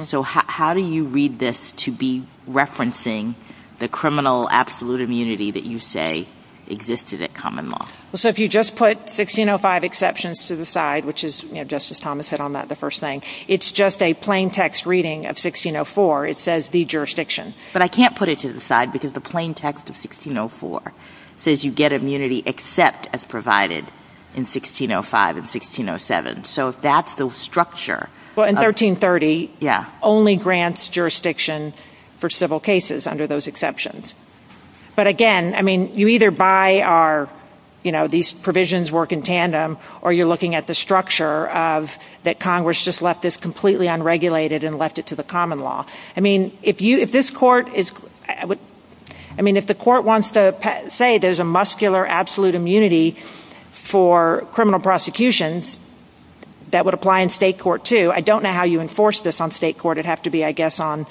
So, how do you read this to be referencing the criminal absolute immunity that you say existed at common law? So, if you just put 1605 exceptions to the side, which is, you know, just as Thomas said on that, the first thing, it's just a plain text reading of 1604. It says the jurisdiction. But I can't put it to the side because the plain text of 1604 says you get immunity except as provided in 1605 and 1607. So, that's the structure. Well, in 1330, only grants jurisdiction for civil cases under those exceptions. But again, I mean, you either buy our, you know, these provisions work in tandem or you're looking at the structure of that Congress just left this completely unregulated and left it to the common law. I mean, if you, if this court is, I mean, if the court wants to say there's a muscular absolute immunity for criminal prosecution, that would apply in state court too. I don't know how you enforce this on state court. It'd have to be, I guess, on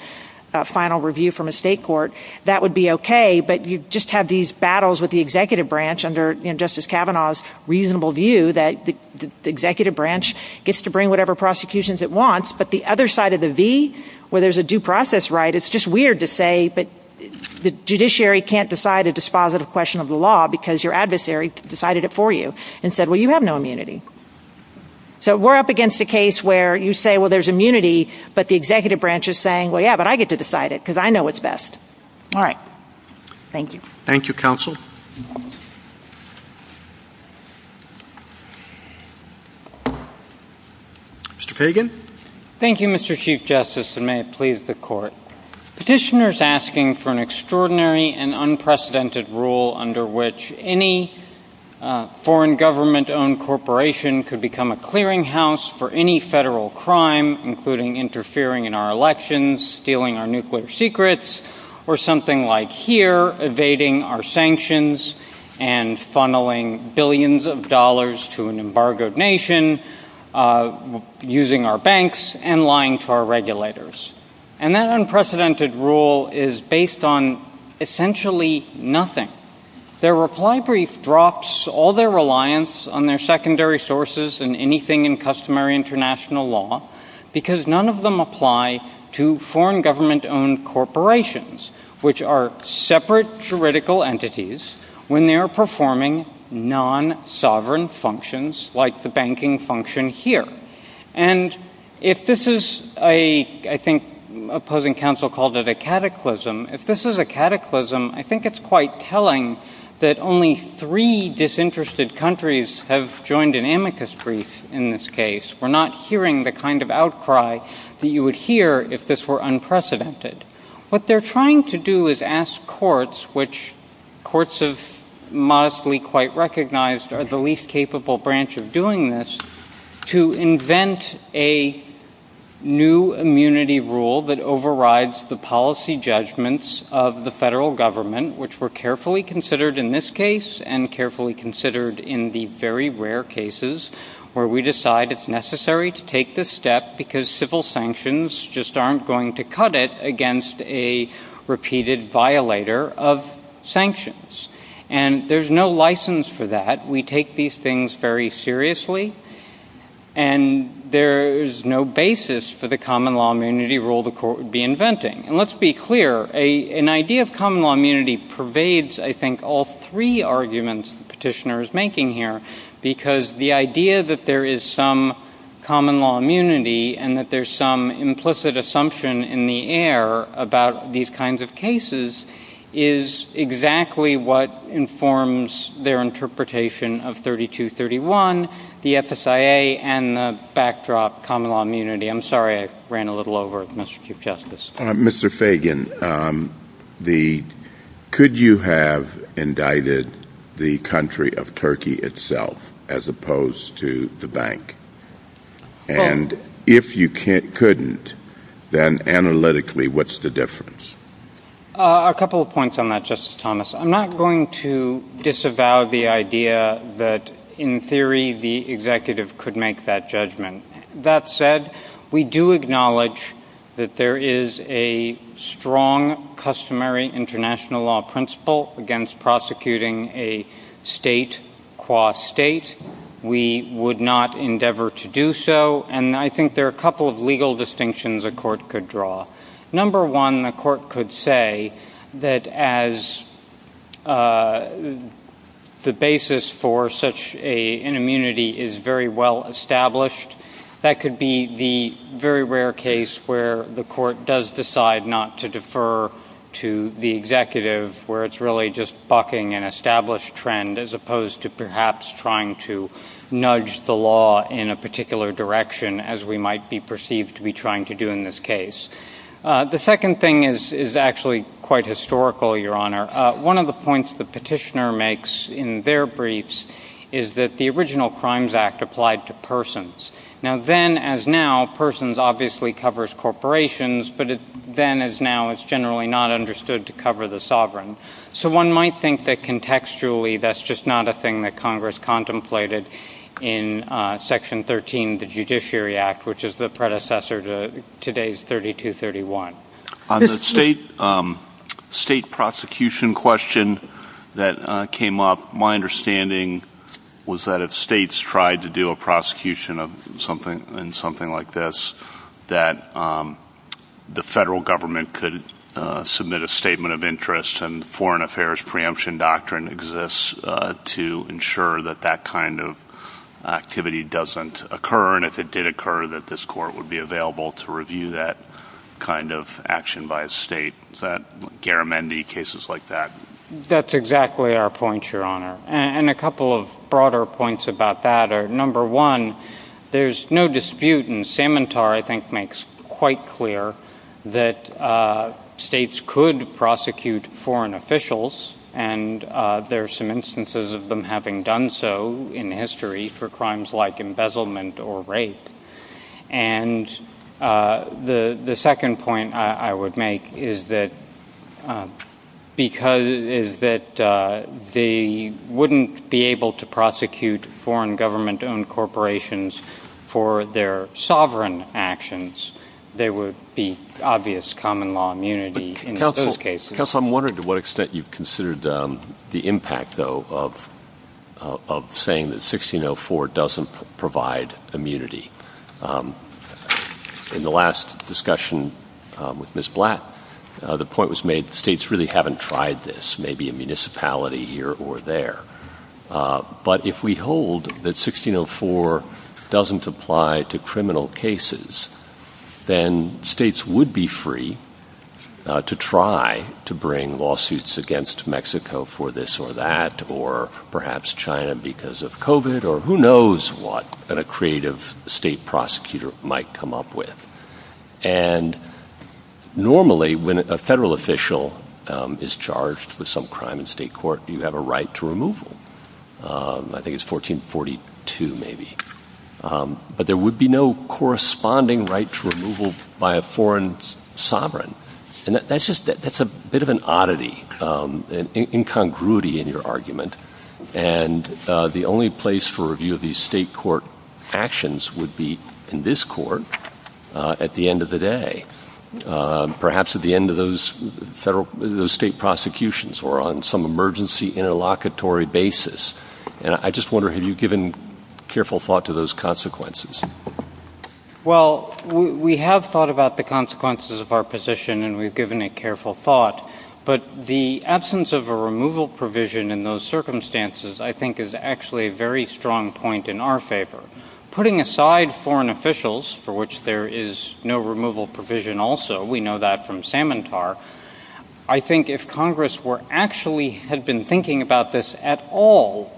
final review from a state court. That would be okay, but you just have these battles with the executive branch under, you know, Justice Kavanaugh's reasonable view that the executive branch gets to bring whatever prosecutions it wants, but the other side of the V, where there's a due process right, it's just weird to say, but the judiciary can't decide a dispositive question of the law because your adversary decided it for you and said, well, you have no immunity. So, we're up against a case where you say, well, there's immunity, but the executive branch is saying, well, yeah, but I get to decide it because I know what's best. All right. Thank you. Thank you, counsel. Mr. Fagan. Thank you, Mr. Chief Justice, and may it please the court. Petitioners asking for an extraordinary and unprecedented rule under which any foreign government-owned corporation could become a clearinghouse for any federal crime, including interfering in our elections, stealing our nuclear secrets, or something like here, evading our sanctions and funneling billions of dollars to an embargoed nation, using our banks, and lying to our regulators. And that unprecedented rule is based on essentially nothing. Their reply brief drops all their reliance on their secondary sources and anything in customary international law because none of them apply to foreign government-owned corporations, which are separate juridical entities when they are performing non-sovereign functions like the banking function here. And if this is a, I think opposing counsel called it a cataclysm, if this is a cataclysm, I think it's quite telling that only three disinterested countries have joined an amicus brief in this case. We're not hearing the kind of outcry that you would hear if this were unprecedented. What they're trying to do is ask courts, which courts have modestly quite recognized are the least capable branch of doing this, to invent a new immunity rule that overrides the policy judgments of the federal government, which were carefully considered in this case and carefully considered in the very rare cases where we decide it's necessary to take this step because civil sanctions just aren't going to cut it against a repeated violator of sanctions. And there's no license for that. We take these things very seriously. And there is no basis for the common law immunity rule the court would be inventing. And let's be clear, an idea of common law immunity pervades, I think, all three arguments the petitioner is making here because the idea that there is some common law immunity and that there's some implicit assumption in the air about these kinds of cases is exactly what informs their interpretation of 3231, the FSIA, and the backdrop common law immunity. I'm sorry I ran a little over, Mr. Chief Justice. Mr. Fagan, could you have indicted the country of Turkey itself as opposed to the bank? And if you couldn't, then analytically what's the difference? A couple of points on that, Justice Thomas. I'm not going to disavow the idea that in theory the executive could make that judgment. That said, we do acknowledge that there is a strong customary international law principle against prosecuting a state qua state. We would not endeavor to do so. And I think there are a couple of legal distinctions a court could draw. Number one, the court could say that as the basis for such an immunity is very well established, that could be the very rare case where the court does decide not to defer to the executive where it's really just bucking an established trend as opposed to perhaps trying to nudge the law in a particular direction as we might be perceived to be trying to do in this case. The second thing is actually quite historical, Your Honor. One of the points the petitioner makes in their briefs is that the original Crimes Act applied to persons. Now, then as now, persons obviously covers corporations, but then as now it's generally not understood to cover the sovereign. So one might think that contextually that's just not a thing that Congress contemplated in Section 13 of the Judiciary Act, which is the predecessor to today's 3231. On the state prosecution question that came up, my understanding was that if states tried to do a prosecution in something like this, that the federal government could submit a statement of interest and foreign affairs preemption doctrine exists to ensure that that kind of activity doesn't occur. And if it did occur, that this court would be available to review that kind of action by a state. Garamendi, cases like that. That's exactly our point, Your Honor. And a couple of broader points about that are, number one, there's no dispute, and Samantar, I think, makes quite clear that states could prosecute foreign officials, and there are some instances of them having done so in history for crimes like embezzlement or rape. And the second point I would make is that because they wouldn't be able to prosecute foreign government-owned corporations for their sovereign actions, there would be obvious common law immunity in those cases. Counsel, I'm wondering to what extent you've considered the impact, though, of saying that 1604 doesn't provide immunity. In the last discussion with Ms. Black, the point was made that states really haven't tried this, maybe a municipality here or there. But if we hold that 1604 doesn't apply to criminal cases, then states would be free to try to bring lawsuits against Mexico for this or that, or perhaps China because of COVID, or who knows what a creative state prosecutor might come up with. And normally, when a federal official is charged with some crime in state court, you have a right to removal. I think it's 1442, maybe. But there would be no corresponding right to removal by a foreign sovereign. And that's just a bit of an oddity, an incongruity in your argument. And the only place for review of these state court actions would be in this court at the end of the day, perhaps at the end of those state prosecutions or on some emergency interlocutory basis. And I just wonder, have you given careful thought to those consequences? Well, we have thought about the consequences of our position, and we've given it careful thought. But the absence of a removal provision in those circumstances, I think, is actually a very strong point in our favor. Putting aside foreign officials, for which there is no removal provision also, we know that from Samantar, I think if Congress actually had been thinking about this at all,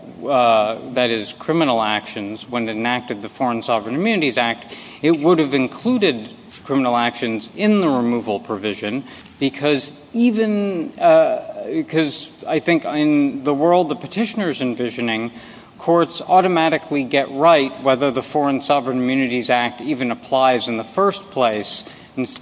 that is, criminal actions, when it enacted the Foreign Sovereign Immunities Act, it would have included criminal actions in the removal provision, because I think in the world the petitioner is envisioning, courts automatically get right whether the Foreign Sovereign Immunities Act even applies in the first place.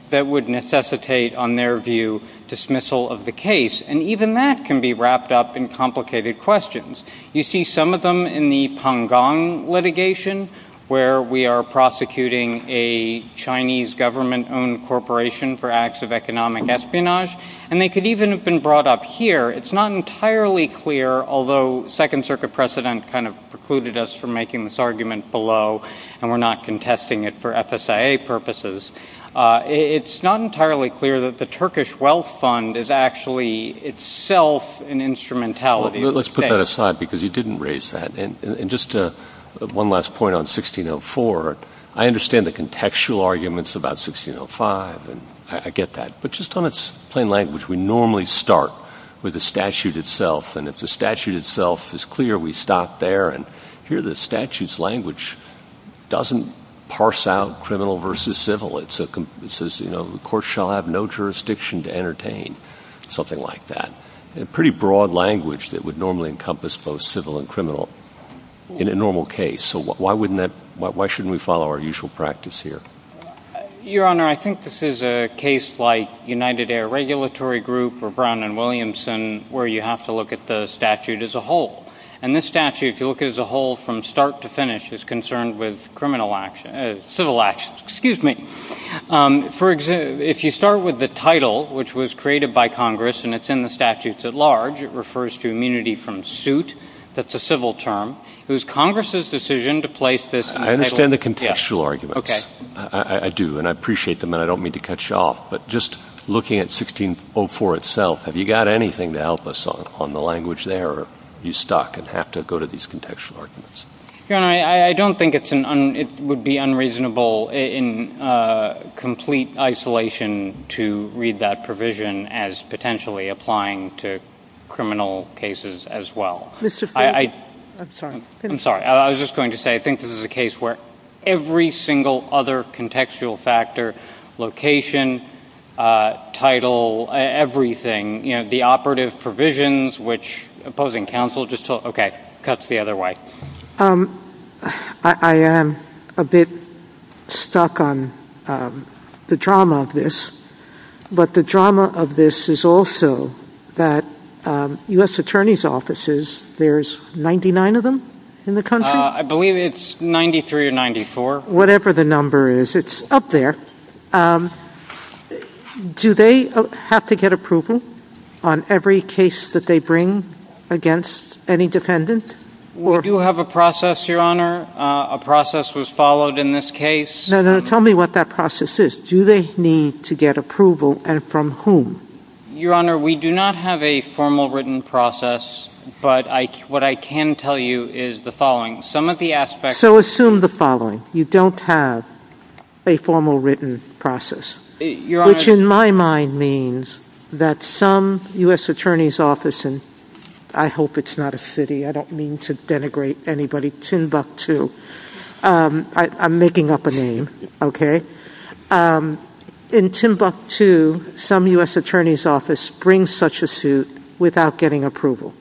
That would necessitate, on their view, dismissal of the case. And even that can be wrapped up in complicated questions. You see some of them in the Pangong litigation, where we are prosecuting a Chinese government-owned corporation for acts of economic espionage. And they could even have been brought up here. It's not entirely clear, although Second Circuit precedent kind of precluded us from making this argument below, and we're not contesting it for FSIA purposes. It's not entirely clear that the Turkish Wealth Fund is actually itself an instrumentality. Let's put that aside, because you didn't raise that. And just one last point on 1604. I understand the contextual arguments about 1605, and I get that. But just on its plain language, we normally start with the statute itself. And if the statute itself is clear, we stop there. And here the statute's language doesn't parse out criminal versus civil. It says, you know, the court shall have no jurisdiction to entertain, something like that. A pretty broad language that would normally encompass both civil and criminal in a normal case. So why shouldn't we follow our usual practice here? Your Honor, I think this is a case like United Air Regulatory Group or Brown and Williamson, where you have to look at the statute as a whole. And this statute, if you look at it as a whole from start to finish, is concerned with civil actions. If you start with the title, which was created by Congress, and it's in the statutes at large, it refers to immunity from suit. That's a civil term. It was Congress's decision to place this in the title. I understand the contextual arguments. Okay. I do, and I appreciate them, and I don't mean to cut you off. But just looking at 1604 itself, have you got anything to help us on the language there, or are you stuck and have to go to these contextual arguments? Your Honor, I don't think it would be unreasonable in complete isolation to read that provision as potentially applying to criminal cases as well. Mr. Fink. I'm sorry. I'm sorry. I was just going to say I think this is a case where every single other contextual factor, location, title, everything, the operative provisions, which opposing counsel just told, okay, cuts the other way. I am a bit stuck on the drama of this, but the drama of this is also that U.S. Attorney's offices, there's 99 of them in the country? I believe it's 93 or 94. Whatever the number is, it's up there. Do they have to get approval on every case that they bring against any dependent? We do have a process, Your Honor. A process was followed in this case. No, no. Tell me what that process is. Do they need to get approval, and from whom? Your Honor, we do not have a formal written process, but what I can tell you is the following. Some of the aspects... So assume the following. You don't have a formal written process, which in my mind means that some U.S. Attorney's office, and I hope it's not a city. I don't mean to denigrate anybody. Timbuktu. I'm making up a name, okay? In Timbuktu, some U.S. Attorney's office brings such a suit without getting approval.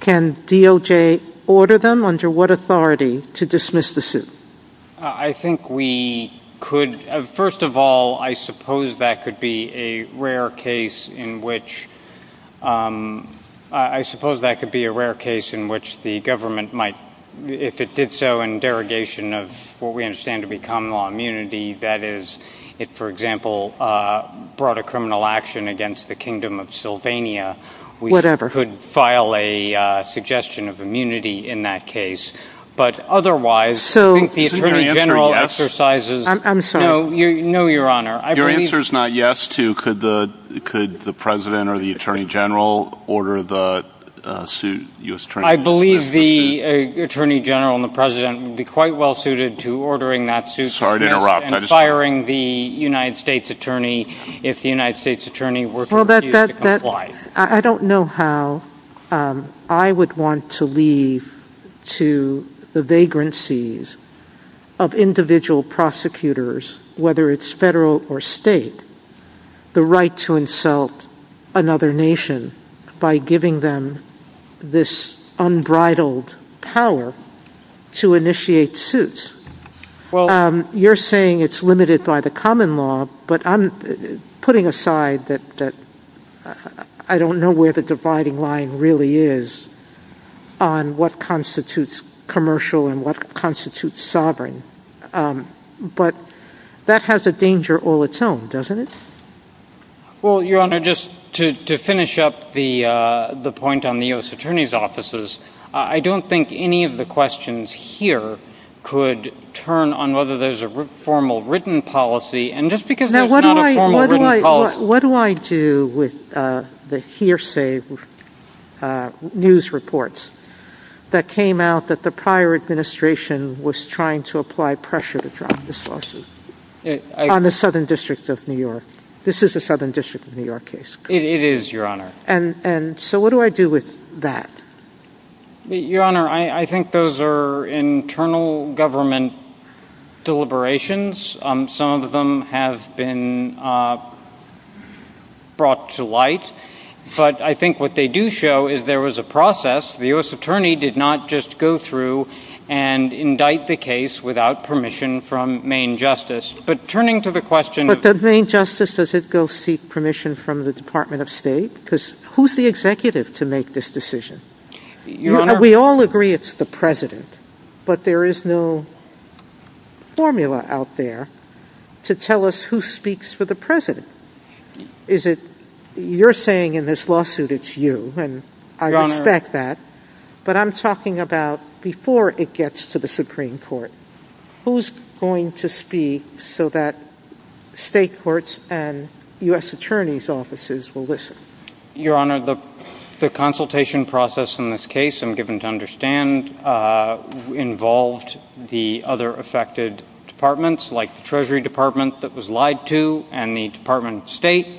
Can DOJ order them under what authority to dismiss the suit? I think we could. First of all, I suppose that could be a rare case in which the government might, if it did so in derogation of what we understand to be common law immunity, that is, it, for example, brought a criminal action against the Kingdom of Sylvania. Whatever. We could file a suggestion of immunity in that case. But otherwise, I think the Attorney General exercises... I'm sorry. No, Your Honor. Your answer is not yes to could the President or the Attorney General order the suit? I believe the Attorney General and the President would be quite well suited to ordering that suit... Sorry to interrupt. I don't know how I would want to leave to the vagrancies of individual prosecutors, whether it's federal or state, the right to insult another nation by giving them this unbridled power to initiate suits. You're saying it's limited by the common law, but I'm putting aside that I don't know where the dividing line really is on what constitutes commercial and what constitutes sovereign. But that has a danger all its own, doesn't it? Well, Your Honor, just to finish up the point on the U.S. Attorney's offices, I don't think any of the questions here could turn on whether there's a formal written policy, and just because there's not a formal written policy... Now, what do I do with the hearsay news reports that came out that the prior administration was trying to apply pressure to drop this lawsuit on the Southern District of New York? This is a Southern District of New York case. It is, Your Honor. So what do I do with that? Your Honor, I think those are internal government deliberations. Some of them have been brought to light. But I think what they do show is there was a process. The U.S. Attorney did not just go through and indict the case without permission from Maine Justice. But turning to the question of... Why on earth does it go seek permission from the Department of State? Because who's the executive to make this decision? We all agree it's the President. But there is no formula out there to tell us who speaks for the President. You're saying in this lawsuit it's you, and I respect that. But I'm talking about before it gets to the Supreme Court. Who's going to speak so that state courts and U.S. Attorney's offices will listen? Your Honor, the consultation process in this case, I'm given to understand, involved the other affected departments, like the Treasury Department that was lied to and the Department of State.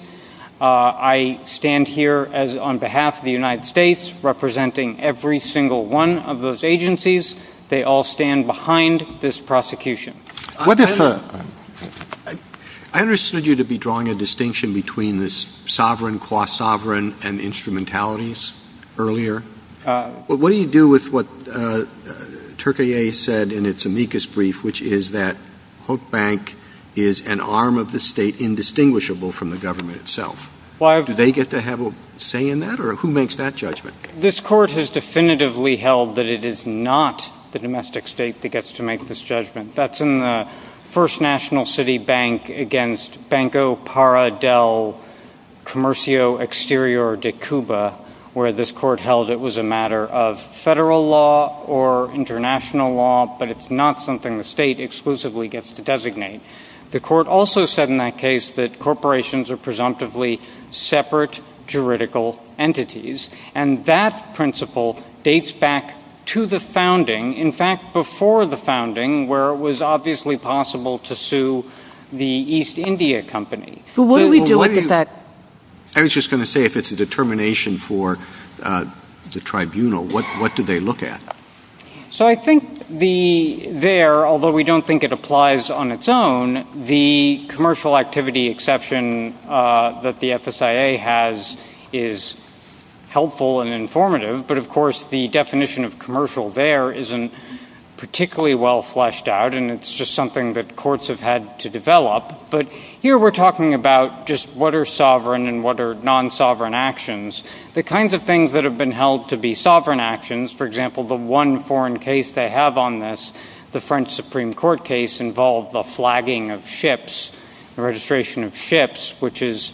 I stand here on behalf of the United States, representing every single one of those agencies. They all stand behind this prosecution. I understood you to be drawing a distinction between this sovereign, quasi-sovereign, and instrumentalities earlier. But what do you do with what Turkaye said in its amicus brief, which is that Hope Bank is an arm of the state indistinguishable from the government itself? Do they get to have a say in that? Or who makes that judgment? This court has definitively held that it is not the domestic state that gets to make this judgment. That's in the first national city bank against Banco Para del Comercio Exterior de Cuba, where this court held it was a matter of federal law or international law, but it's not something the state exclusively gets to designate. The court also said in that case that corporations are presumptively separate juridical entities, and that principle dates back to the founding, in fact, before the founding, where it was obviously possible to sue the East India Company. But what do we do with that? I was just going to say if it's a determination for the tribunal, what do they look at? So I think there, although we don't think it applies on its own, the commercial activity exception that the FSIA has is helpful and informative, but of course the definition of commercial there isn't particularly well fleshed out, and it's just something that courts have had to develop. But here we're talking about just what are sovereign and what are non-sovereign actions, the kinds of things that have been held to be sovereign actions. For example, the one foreign case they have on this, the French Supreme Court case, involved the flagging of ships, the registration of ships, which is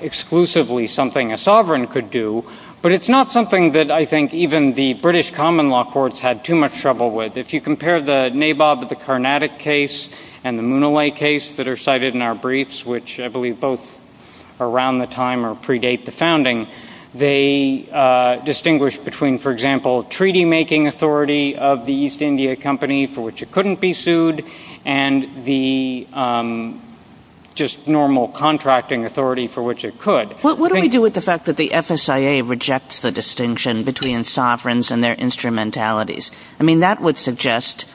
exclusively something a sovereign could do, but it's not something that I think even the British common law courts had too much trouble with. If you compare the Nabob, the Carnatic case, and the Munaway case that are cited in our briefs, which I believe both are around the time or predate the founding, they distinguish between, for example, treaty-making authority of the East India Company for which it couldn't be sued and the just normal contracting authority for which it could. What do we do with the fact that the FSIA rejects the distinction between sovereigns and their instrumentalities? I mean that would suggest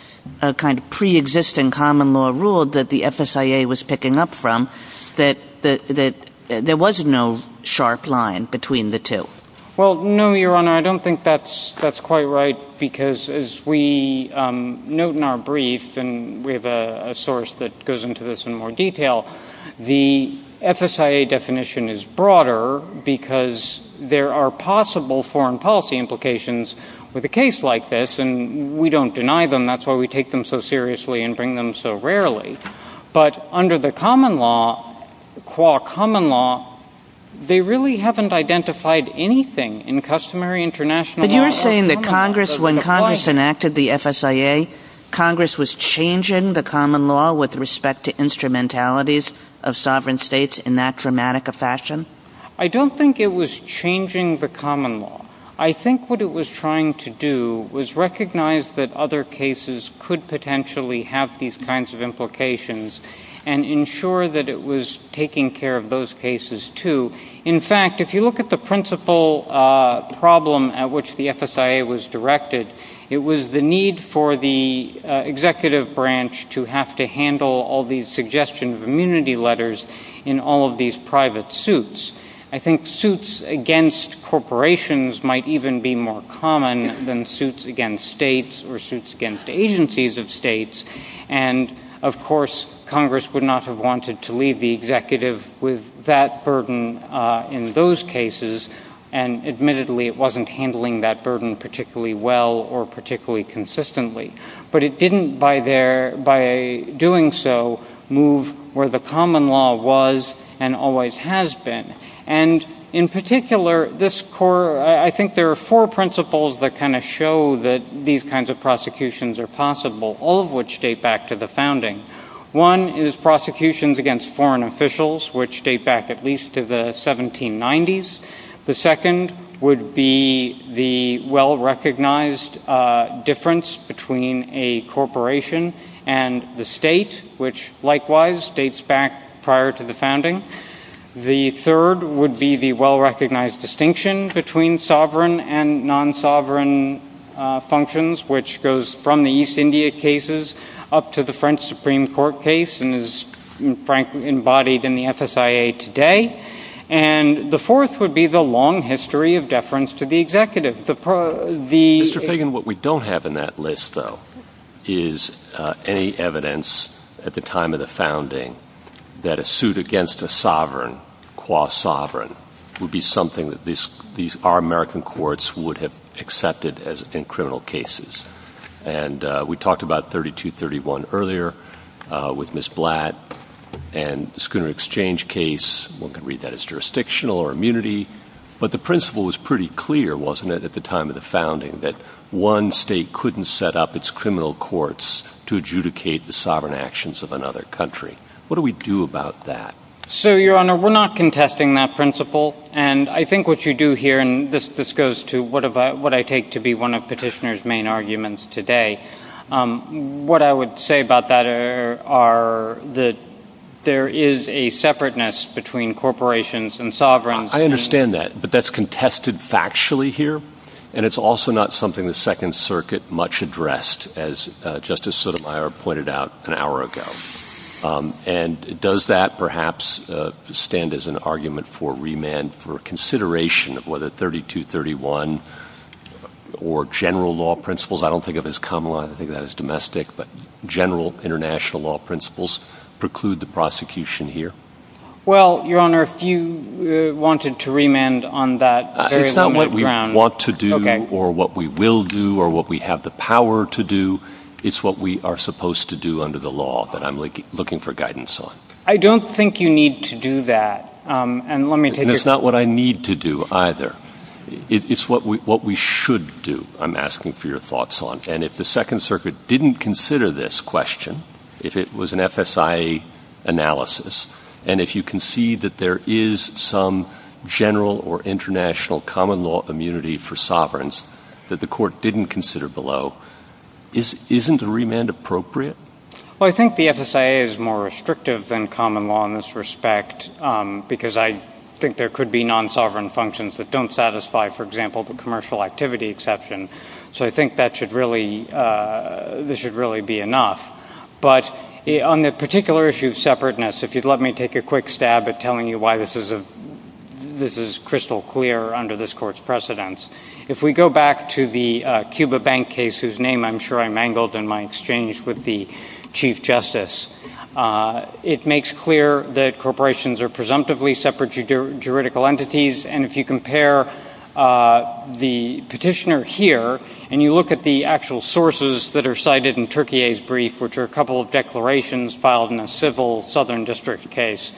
a kind of pre-existing common law rule that the FSIA was picking up from that there was no sharp line between the two. Well, no, Your Honor, I don't think that's quite right because as we note in our brief, and we have a source that goes into this in more detail, the FSIA definition is broader because there are possible foreign policy implications with a case like this, and we don't deny them, that's why we take them so seriously and bring them so rarely. But under the common law, qua common law, they really haven't identified anything in customary international law. But you're saying that when Congress enacted the FSIA, Congress was changing the common law with respect to instrumentalities of sovereign states in that dramatic a fashion? I don't think it was changing the common law. I think what it was trying to do was recognize that other cases could potentially have these kinds of implications and ensure that it was taking care of those cases, too. In fact, if you look at the principal problem at which the FSIA was directed, it was the need for the executive branch to have to handle all these suggestions of immunity letters in all of these private suits. I think suits against corporations might even be more common than suits against states or suits against agencies of states. And, of course, Congress would not have wanted to leave the executive with that burden in those cases, and admittedly it wasn't handling that burden particularly well or particularly consistently. But it didn't, by doing so, move where the common law was and always has been. And in particular, I think there are four principles that kind of show that these kinds of prosecutions are possible, all of which date back to the founding. One is prosecutions against foreign officials, which date back at least to the 1790s. The second would be the well-recognized difference between a corporation and the state, which likewise dates back prior to the founding. The third would be the well-recognized distinction between sovereign and non-sovereign functions, which goes from the East India cases up to the French Supreme Court case and is, frankly, embodied in the FSIA today. And the fourth would be the long history of deference to the executive. Mr. Fagan, what we don't have in that list, though, is any evidence at the time of the founding that a suit against a sovereign, qua sovereign, would be something that our American courts would have accepted in criminal cases. And we talked about 3231 earlier with Ms. Blatt and the Schooner Exchange case. One could read that as jurisdictional or immunity. But the principle was pretty clear, wasn't it, at the time of the founding, that one state couldn't set up its criminal courts to adjudicate the sovereign actions of another country. What do we do about that? So, Your Honor, we're not contesting that principle. And I think what you do here, and this goes to what I take to be one of Petitioner's main arguments today, what I would say about that are that there is a separateness between corporations and sovereigns. I understand that, but that's contested factually here, and it's also not something the Second Circuit much addressed, as Justice Sotomayor pointed out an hour ago. And does that perhaps stand as an argument for remand for consideration of whether 3231 or general law principles, I don't think of it as common law, I think of it as domestic, but general international law principles preclude the prosecution here? Well, Your Honor, if you wanted to remand on that, there is no background. It's not what we want to do or what we will do or what we have the power to do. It's what we are supposed to do under the law that I'm looking for guidance on. I don't think you need to do that. That's not what I need to do either. It's what we should do, I'm asking for your thoughts on. And if the Second Circuit didn't consider this question, if it was an FSIA analysis, and if you concede that there is some general or international common law immunity for sovereigns that the court didn't consider below, isn't a remand appropriate? Well, I think the FSIA is more restrictive than common law in this respect, because I think there could be non-sovereign functions that don't satisfy, for example, the commercial activity exception. So I think that should really be enough. But on the particular issue of separateness, if you'd let me take a quick stab at telling you why this is crystal clear under this court's precedence. If we go back to the Cuba Bank case, whose name I'm sure I mangled in my exchange with the Chief Justice, it makes clear that corporations are presumptively separate juridical entities. And if you compare the petitioner here, and you look at the actual sources that are cited in Turkiyeh's brief, which are a couple of declarations filed in a civil southern district case,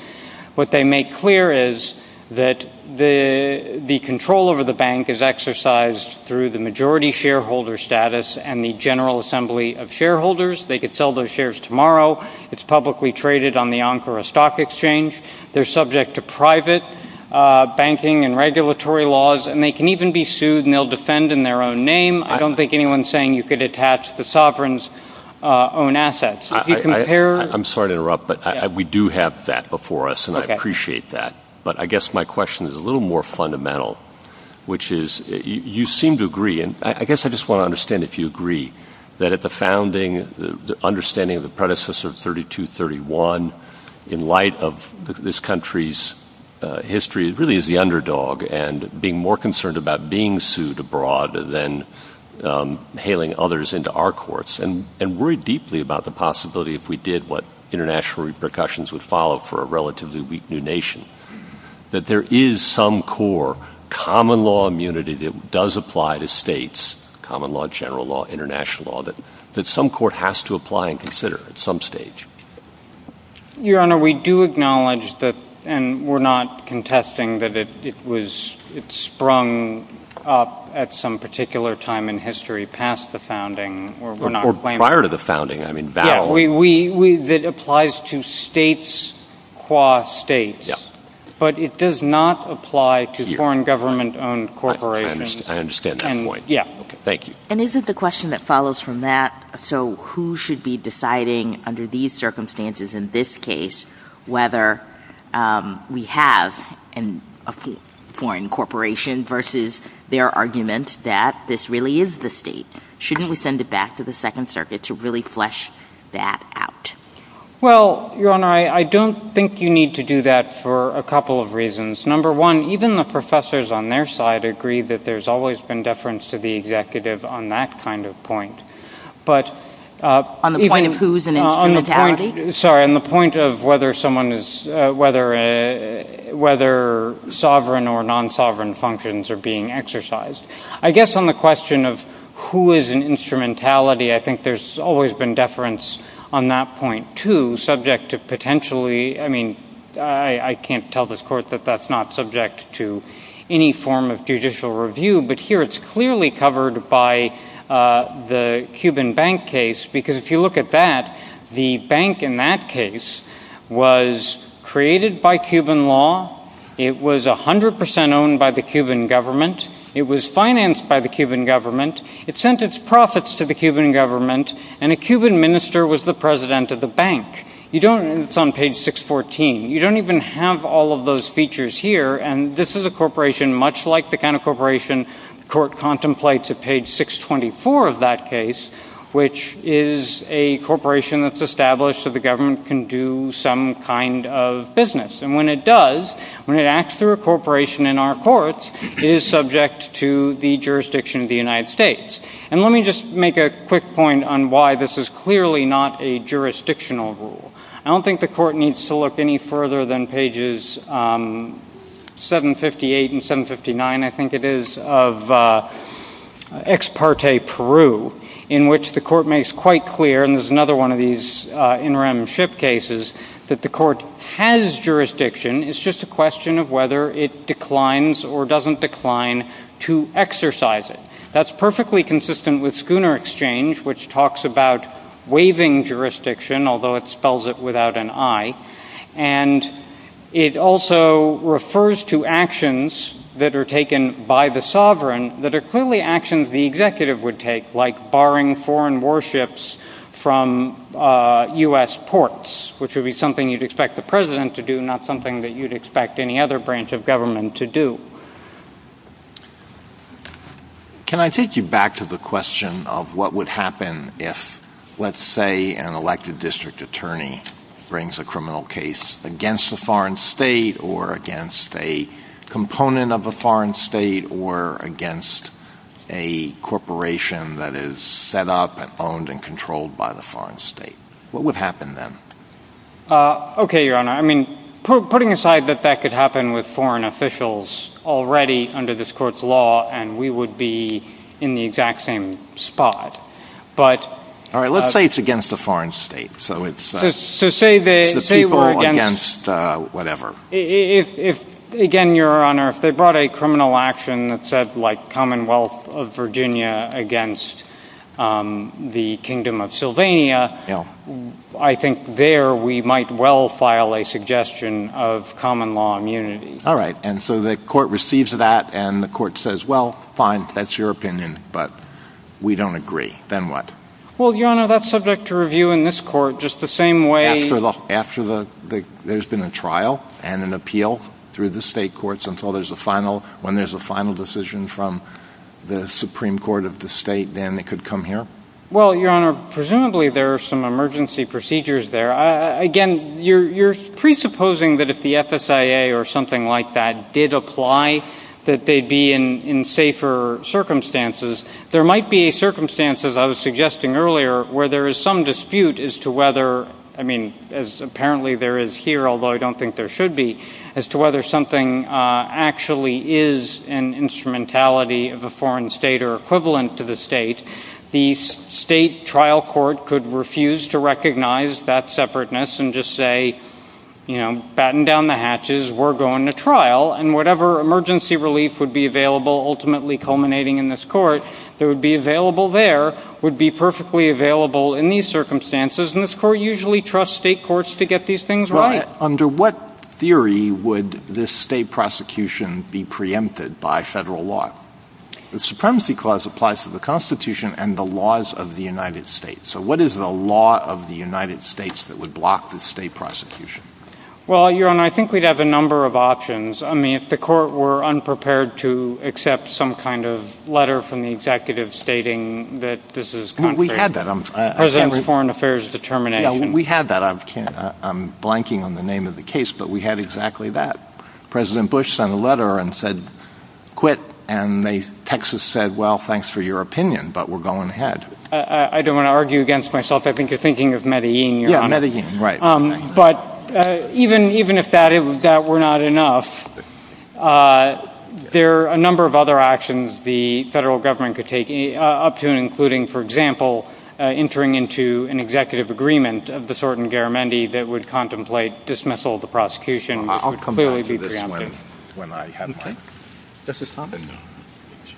what they make clear is that the control over the bank is exercised through the majority shareholder status and the general assembly of shareholders. They could sell those shares tomorrow. It's publicly traded on the Ankara Stock Exchange. They're subject to private banking and regulatory laws, and they can even be sued, and they'll defend in their own name. I don't think anyone's saying you could attach the sovereigns' own assets. I'm sorry to interrupt, but we do have that before us, and I appreciate that. But I guess my question is a little more fundamental, which is, you seem to agree, and I guess I just want to understand if you agree, that at the founding, the understanding of the predecessor of 3231, in light of this country's history, it really is the underdog, and being more concerned about being sued abroad than hailing others into our courts, and worry deeply about the possibility, if we did, what international repercussions would follow for a relatively weak new nation, that there is some core common law immunity that does apply to states, common law, general law, international law, that some court has to apply and consider at some stage. Your Honor, we do acknowledge that, and we're not contesting that it sprung up at some particular time in history, past the founding, or prior to the founding. It applies to states, qua states, but it does not apply to foreign government-owned corporations. I understand that point. Yeah. Thank you. And isn't the question that follows from that, so who should be deciding, under these circumstances, in this case, whether we have a foreign corporation versus their argument that this really is the state? Shouldn't we send it back to the Second Circuit to really flesh that out? Well, Your Honor, I don't think you need to do that for a couple of reasons. Number one, even the professors on their side agree that there's always been deference to the executive on that kind of point. On the point of who's an instrumentality? Sorry, on the point of whether sovereign or non-sovereign functions are being exercised. I guess on the question of who is an instrumentality, I think there's always been deference on that point, too, I mean, I can't tell this Court that that's not subject to any form of judicial review, but here it's clearly covered by the Cuban bank case, because if you look at that, the bank in that case was created by Cuban law, it was 100% owned by the Cuban government, it was financed by the Cuban government, it sent its profits to the Cuban government, and a Cuban minister was the president of the bank. It's on page 614. You don't even have all of those features here, and this is a corporation, much like the kind of corporation the Court contemplates at page 624 of that case, which is a corporation that's established so the government can do some kind of business. And when it does, when it acts through a corporation in our courts, it is subject to the jurisdiction of the United States. And let me just make a quick point on why this is clearly not a jurisdictional rule. I don't think the Court needs to look any further than pages 758 and 759, I think it is, of Ex parte Peru, in which the Court makes quite clear, and there's another one of these interim ship cases, that the Court has jurisdiction, it's just a question of whether it declines or doesn't decline to exercise it. That's perfectly consistent with Schooner Exchange, which talks about waiving jurisdiction, although it spells it without an I. And it also refers to actions that are taken by the sovereign that are clearly actions the executive would take, like barring foreign warships from U.S. ports, which would be something you'd expect the president to do, but not something that you'd expect any other branch of government to do. Can I take you back to the question of what would happen if, let's say, an elected district attorney brings a criminal case against a foreign state or against a component of a foreign state or against a corporation that is set up and owned and controlled by the foreign state? What would happen then? Okay, Your Honor. I mean, putting aside that that could happen with foreign officials already under this Court's law, and we would be in the exact same spot. All right, let's say it's against a foreign state. So say they were against whatever. Again, Your Honor, if they brought a criminal action that said, like, I think there we might well file a suggestion of common law immunity. All right, and so the Court receives that, and the Court says, well, fine, that's your opinion, but we don't agree. Then what? Well, Your Honor, that's subject to review in this Court just the same way. After there's been a trial and an appeal through the state courts until there's a final decision from the Supreme Court of the state, then it could come here? Well, Your Honor, presumably there are some emergency procedures there. Again, you're presupposing that if the FSIA or something like that did apply, that they'd be in safer circumstances. There might be circumstances, I was suggesting earlier, where there is some dispute as to whether, I mean, as apparently there is here, although I don't think there should be, as to whether something actually is an instrumentality of a foreign state or equivalent to the state. The state trial court could refuse to recognize that separateness and just say, you know, batten down the hatches, we're going to trial, and whatever emergency relief would be available ultimately culminating in this Court, that would be available there, would be perfectly available in these circumstances, and this Court usually trusts state courts to get these things right. Right. Under what theory would this state prosecution be preempted by federal law? The supremacy clause applies to the Constitution and the laws of the United States. So what is the law of the United States that would block the state prosecution? Well, Your Honor, I think we'd have a number of options. I mean, if the Court were unprepared to accept some kind of letter from the executive stating that this is contrary to President's foreign affairs determination. We had that. I'm blanking on the name of the case, but we had exactly that. President Bush sent a letter and said, quit, and Texas said, well, thanks for your opinion, but we're going ahead. I don't want to argue against myself. I think you're thinking of Medellin, Your Honor. Yeah, Medellin, right. But even if that were not enough, there are a number of other actions the federal government could take, up to and including, for example, entering into an executive agreement of the sort in Garamendi that would contemplate dismissal of the prosecution and clearly be preempted. I'll come back to this when I have my... Okay. This has happened.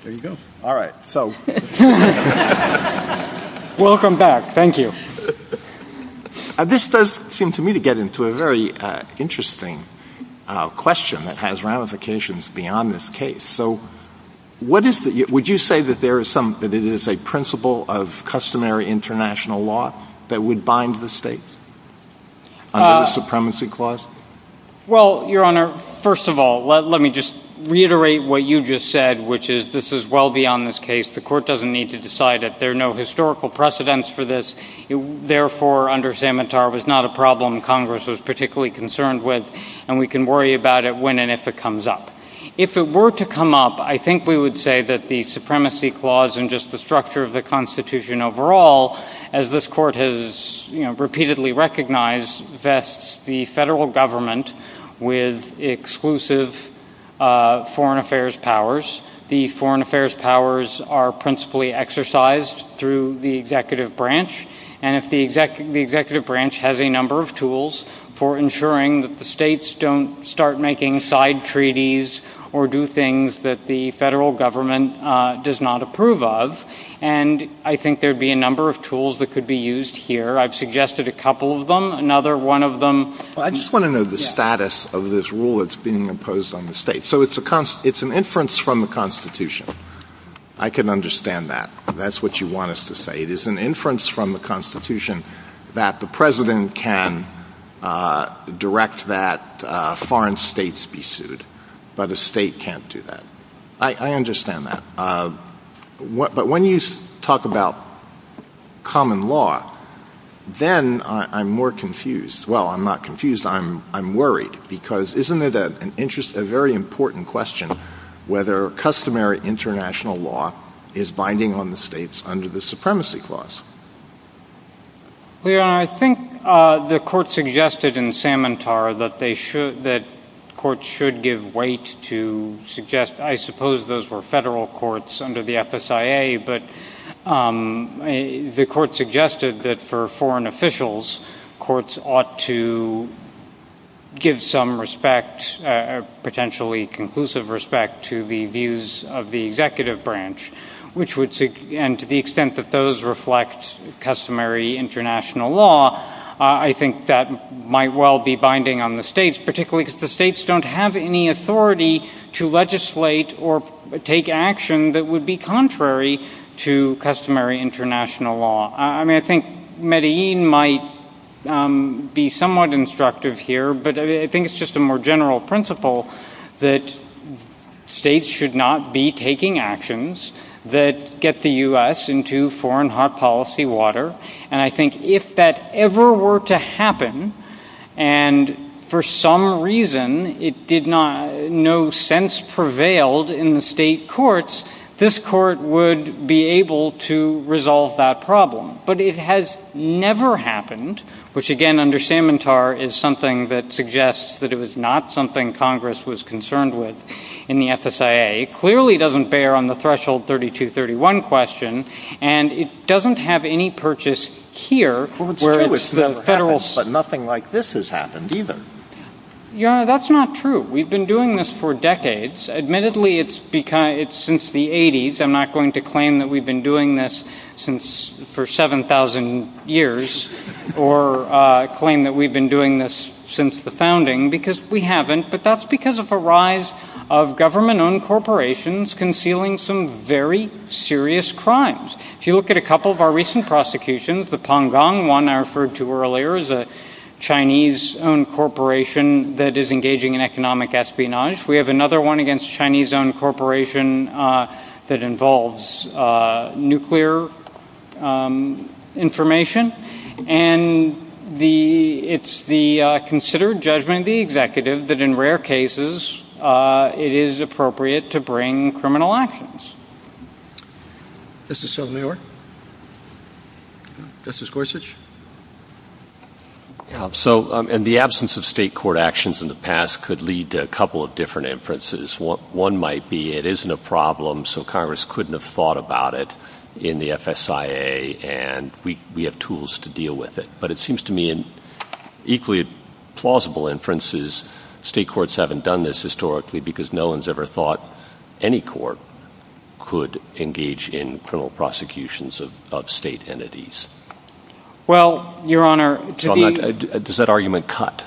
There you go. All right, so... Welcome back. Thank you. This does seem to me to get into a very interesting question that has ramifications beyond this case. Would you say that it is a principle of customary international law that would bind the states under a supremacy clause? Well, Your Honor, first of all, let me just reiterate what you just said, which is this is well beyond this case. The court doesn't need to decide it. There are no historical precedents for this. Therefore, under Samatar, it was not a problem Congress was particularly concerned with, and we can worry about it when and if it comes up. If it were to come up, I think we would say that the supremacy clause and just the structure of the Constitution overall, as this court has repeatedly recognized, vests the federal government with exclusive foreign affairs powers. The foreign affairs powers are principally exercised through the executive branch, and the executive branch has a number of tools for ensuring that the states don't start making side treaties or do things that the federal government does not approve of, and I think there would be a number of tools that could be used here. I've suggested a couple of them. Another one of them... I just want to know the status of this rule that's being imposed on the state. So it's an inference from the Constitution. I can understand that. That's what you want us to say. It is an inference from the Constitution that the president can direct that foreign states be sued, but a state can't do that. I understand that. But when you talk about common law, then I'm more confused. Well, I'm not confused. I'm worried, because isn't it a very important question whether customary international law is binding on the states under the Supremacy Clause? I think the court suggested in Samantar that courts should give weight to suggest... I suppose those were federal courts under the FSIA, but the court suggested that for foreign officials, courts ought to give some respect, potentially conclusive respect, to the views of the executive branch, and to the extent that those reflect customary international law, I think that might well be binding on the states, particularly because the states don't have any authority to legislate or take action that would be contrary to customary international law. I mean, I think Medellin might be somewhat instructive here, but I think it's just a more general principle that states should not be taking actions that get the U.S. into foreign hot policy water, and I think if that ever were to happen, and for some reason it did not, in no sense prevailed in the state courts, this court would be able to resolve that problem. But it has never happened, which again, under Samantar, is something that suggests that it was not something Congress was concerned with in the FSIA. It clearly doesn't bear on the threshold 3231 question, and it doesn't have any purchase here where it's the federal... But nothing like this has happened, even. Your Honor, that's not true. We've been doing this for decades. Admittedly, it's since the 80s. I'm not going to claim that we've been doing this for 7,000 years or claim that we've been doing this since the founding because we haven't, but that's because of a rise of government-owned corporations concealing some very serious crimes. If you look at a couple of our recent prosecutions, the Pangong, one I referred to earlier, is a Chinese-owned corporation that is engaging in economic espionage. We have another one against a Chinese-owned corporation that involves nuclear information. And it's the considered judgment of the executive that in rare cases, it is appropriate to bring criminal actions. Justice Sotomayor? Justice Gorsuch? In the absence of state court actions in the past could lead to a couple of different inferences. One might be it isn't a problem, so Congress couldn't have thought about it in the FSIA, and we have tools to deal with it. But it seems to me in equally plausible inferences, state courts haven't done this historically because no one's ever thought any court could engage in criminal prosecutions of state entities. Well, Your Honor, does that argument cut?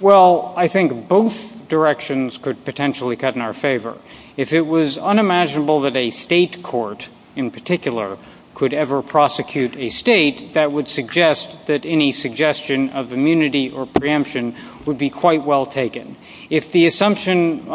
Well, I think both directions could potentially cut in our favor. If it was unimaginable that a state court in particular could ever prosecute a state, that would suggest that any suggestion of immunity or preemption would be quite well taken. If the assumption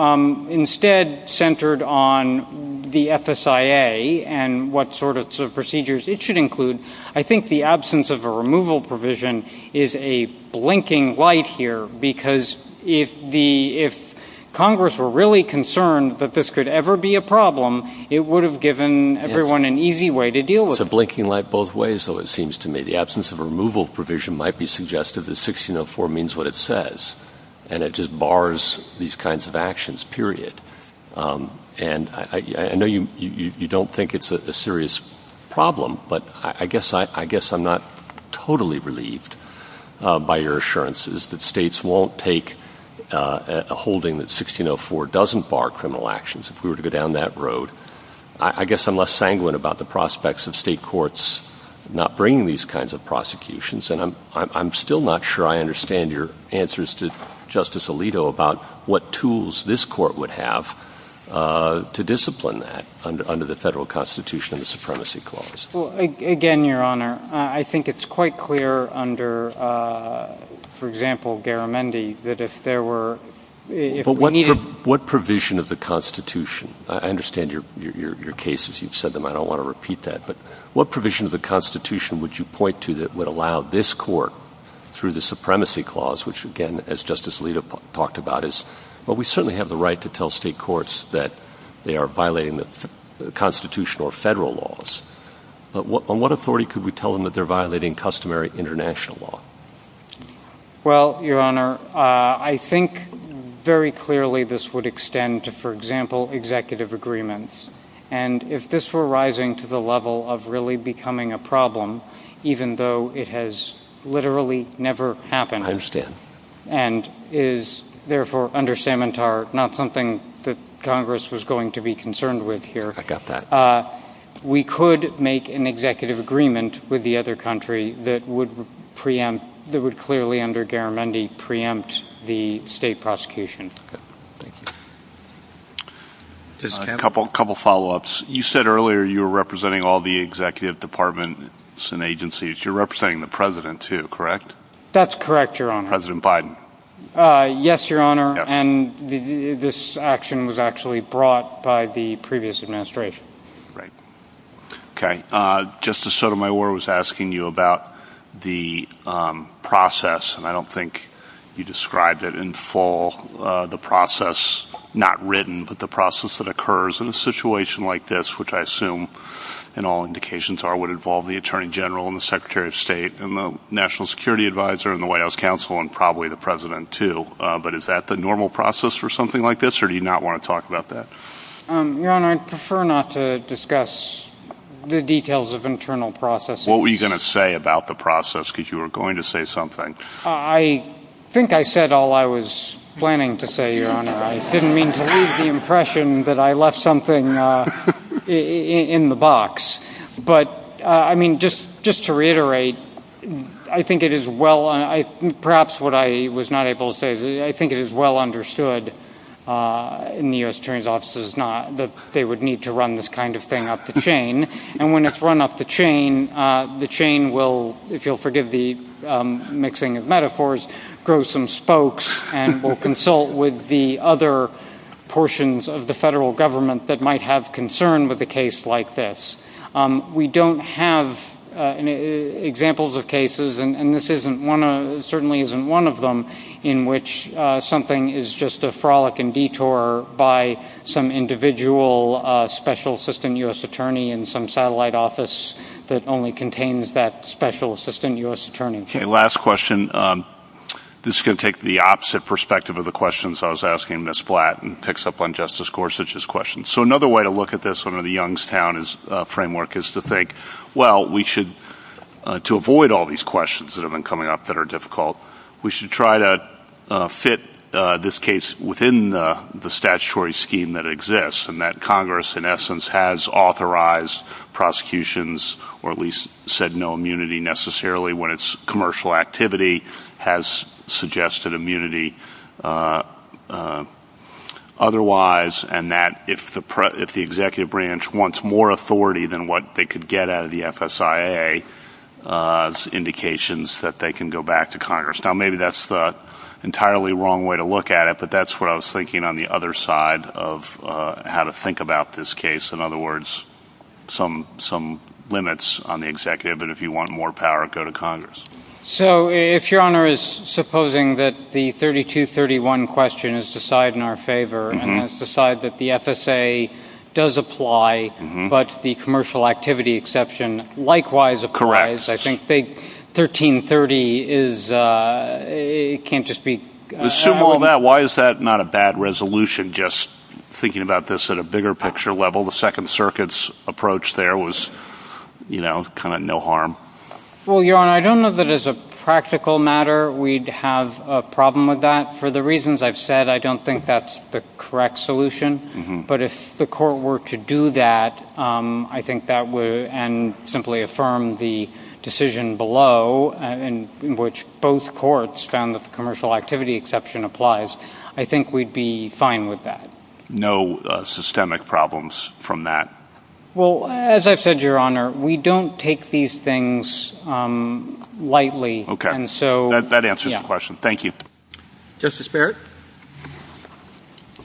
instead centered on the FSIA and what sort of procedures it should include, I think the absence of a removal provision is a blinking light here because if Congress were really concerned that this could ever be a problem, it would have given everyone an easy way to deal with it. It's a blinking light both ways, though, it seems to me. The absence of a removal provision might be suggestive that 1604 means what it says, and it just bars these kinds of actions, period. And I know you don't think it's a serious problem, but I guess I'm not totally relieved by your assurances that states won't take a holding that 1604 doesn't bar criminal actions if we were to go down that road. I guess I'm less sanguine about the prospects of state courts not bringing these kinds of prosecutions, and I'm still not sure I understand your answers to Justice Alito about what tools this court would have to discipline that under the Federal Constitution and the Supremacy Clause. Well, again, Your Honor, I think it's quite clear under, for example, Garamendi, that if there were ñ But what provision of the Constitution? I understand your cases. You've said them. I don't want to repeat that. But what provision of the Constitution would you point to that would allow this court, through the Supremacy Clause, which, again, as Justice Alito talked about, is, well, we certainly have the right to tell state courts that they are violating the constitutional or federal laws. But on what authority could we tell them that they're violating customary international law? Well, Your Honor, I think very clearly this would extend to, for example, executive agreements. And if this were rising to the level of really becoming a problem, even though it has literally never happened, I understand. And it is, therefore, under Samantar, not something that Congress was going to be concerned with here. I got that. We could make an executive agreement with the other country that would clearly, under Garamendi, preempt the state prosecution. Just a couple follow-ups. You said earlier you were representing all the executive departments and agencies. You're representing the President, too, correct? That's correct, Your Honor. President Biden? Yes, Your Honor. And this action was actually brought by the previous administration. Right. Okay. Justice Sotomayor was asking you about the process. And I don't think you described it in full, the process, not written, but the process that occurs in a situation like this, which I assume, in all indications, would involve the Attorney General and the Secretary of State and the National Security Advisor and the White House Counsel and probably the President, too. But is that the normal process for something like this, or do you not want to talk about that? Your Honor, I'd prefer not to discuss the details of internal processes. What were you going to say about the process, because you were going to say something. I think I said all I was planning to say, Your Honor. I didn't mean to leave the impression that I left something in the box. But, I mean, just to reiterate, I think it is well, perhaps what I was not able to say, I think it is well understood in the U.S. Attorney's Office that they would need to run this kind of thing up the chain. And when it's run up the chain, the chain will, if you'll forgive the mixing of metaphors, grow some spokes and will consult with the other portions of the federal government that might have concern with a case like this. We don't have examples of cases, and this certainly isn't one of them, in which something is just a frolic and detour by some individual Special Assistant U.S. Attorney in some satellite office that only contains that Special Assistant U.S. Attorney. Okay, last question. This is going to take the opposite perspective of the questions I was asking Ms. Blatt and picks up on Justice Gorsuch's question. So another way to look at this under the Youngstown framework is to think, well, we should, to avoid all these questions that have been coming up that are difficult, we should try to fit this case within the statutory scheme that exists, and that Congress, in essence, has authorized prosecutions, or at least said no immunity necessarily when it's commercial activity, has suggested immunity otherwise, and that if the executive branch wants more authority than what they could get out of the FSIA, there's indications that they can go back to Congress. Now, maybe that's the entirely wrong way to look at it, but that's what I was thinking on the other side of how to think about this case. In other words, some limits on the executive, and if you want more power, go to Congress. So if Your Honor is supposing that the 3231 question is decided in our favor and has decided that the FSIA does apply, but the commercial activity exception likewise applies, I think 1330 can't just be... Why is that not a bad resolution just thinking about this at a bigger picture level? The Second Circuit's approach there was, you know, kind of no harm. Well, Your Honor, I don't know that as a practical matter we'd have a problem with that. For the reasons I've said, I don't think that's the correct solution. But if the court were to do that, I think that would simply affirm the decision below, in which both courts found the commercial activity exception applies, I think we'd be fine with that. No systemic problems from that. Well, as I've said, Your Honor, we don't take these things lightly. Okay. That answers the question. Thank you. Justice Barrett?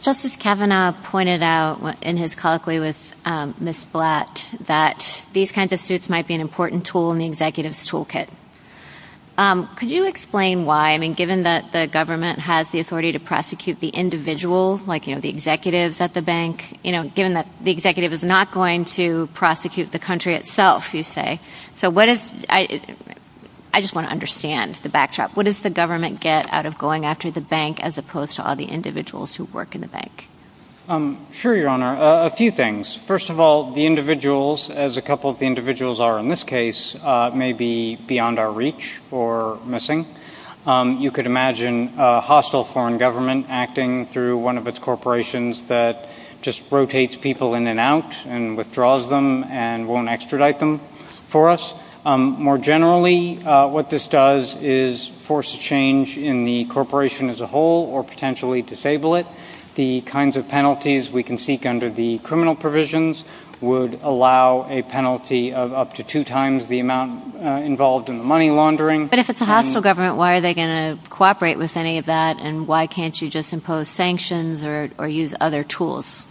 Justice Kavanaugh pointed out in his colloquy with Ms. Blatt that these kinds of suits might be an important tool in the executive's toolkit. Could you explain why? I mean, given that the government has the authority to prosecute the individual, like, you know, the executives at the bank, you know, given that the executive is not going to prosecute the country itself, you say. So what if... I just want to understand the backdrop. What does the government get out of going after the bank as opposed to all the individuals who work in the bank? Sure, Your Honor. A few things. First of all, the individuals, as a couple of the individuals are in this case, may be beyond our reach or missing. You could imagine a hostile foreign government acting through one of its corporations that just rotates people in and out and withdraws them and won't extradite them for us. More generally, what this does is force a change in the corporation as a whole or potentially disable it. The kinds of penalties we can seek under the criminal provisions would allow a penalty of up to two times the amount involved in the money laundering. But if it's a hostile government, why are they going to cooperate with any of that and why can't you just impose sanctions or use other tools?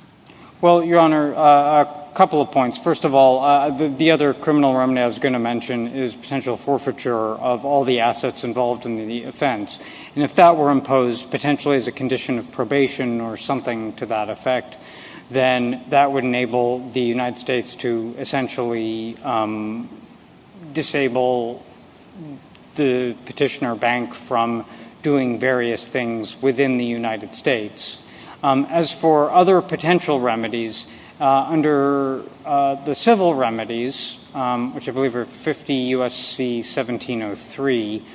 Well, Your Honor, a couple of points. First of all, the other criminal remedy I was going to mention is potential forfeiture of all the assets involved in the offense. And if that were imposed potentially as a condition of probation or something to that effect, then that would enable the United States to essentially disable the petitioner bank from doing various things within the United States. As for other potential remedies, under the civil remedies, which I believe are 50 U.S.C. 1703,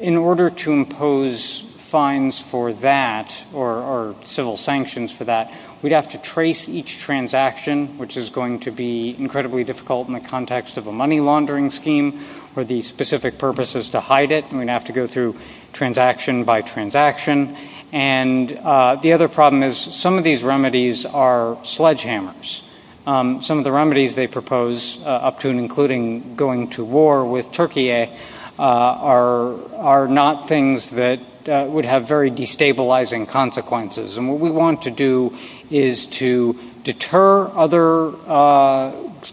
in order to impose fines for that or civil sanctions for that, we'd have to trace each transaction, which is going to be incredibly difficult in the context of a money laundering scheme where the specific purpose is to hide it. We'd have to go through transaction by transaction. And the other problem is some of these remedies are sledgehammers. Some of the remedies they propose, up to and including going to war with Turkey, are not things that would have very destabilizing consequences. And what we want to do is to deter other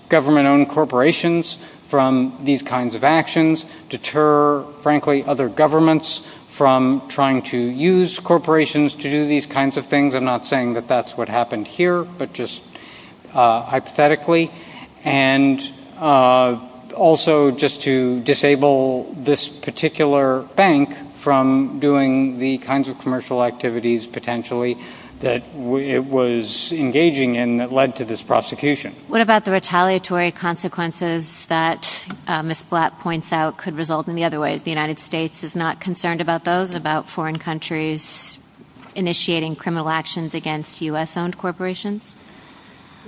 government-owned corporations from these kinds of actions, deter, frankly, other governments from trying to use corporations to do these kinds of things. I'm not saying that that's what happened here, but just hypothetically. And also just to disable this particular bank from doing the kinds of commercial activities, potentially, that it was engaging in that led to this prosecution. What about the retaliatory consequences that Ms. Blatt points out could result in the other ways? The United States is not concerned about those, about foreign countries initiating criminal actions against U.S.-owned corporations?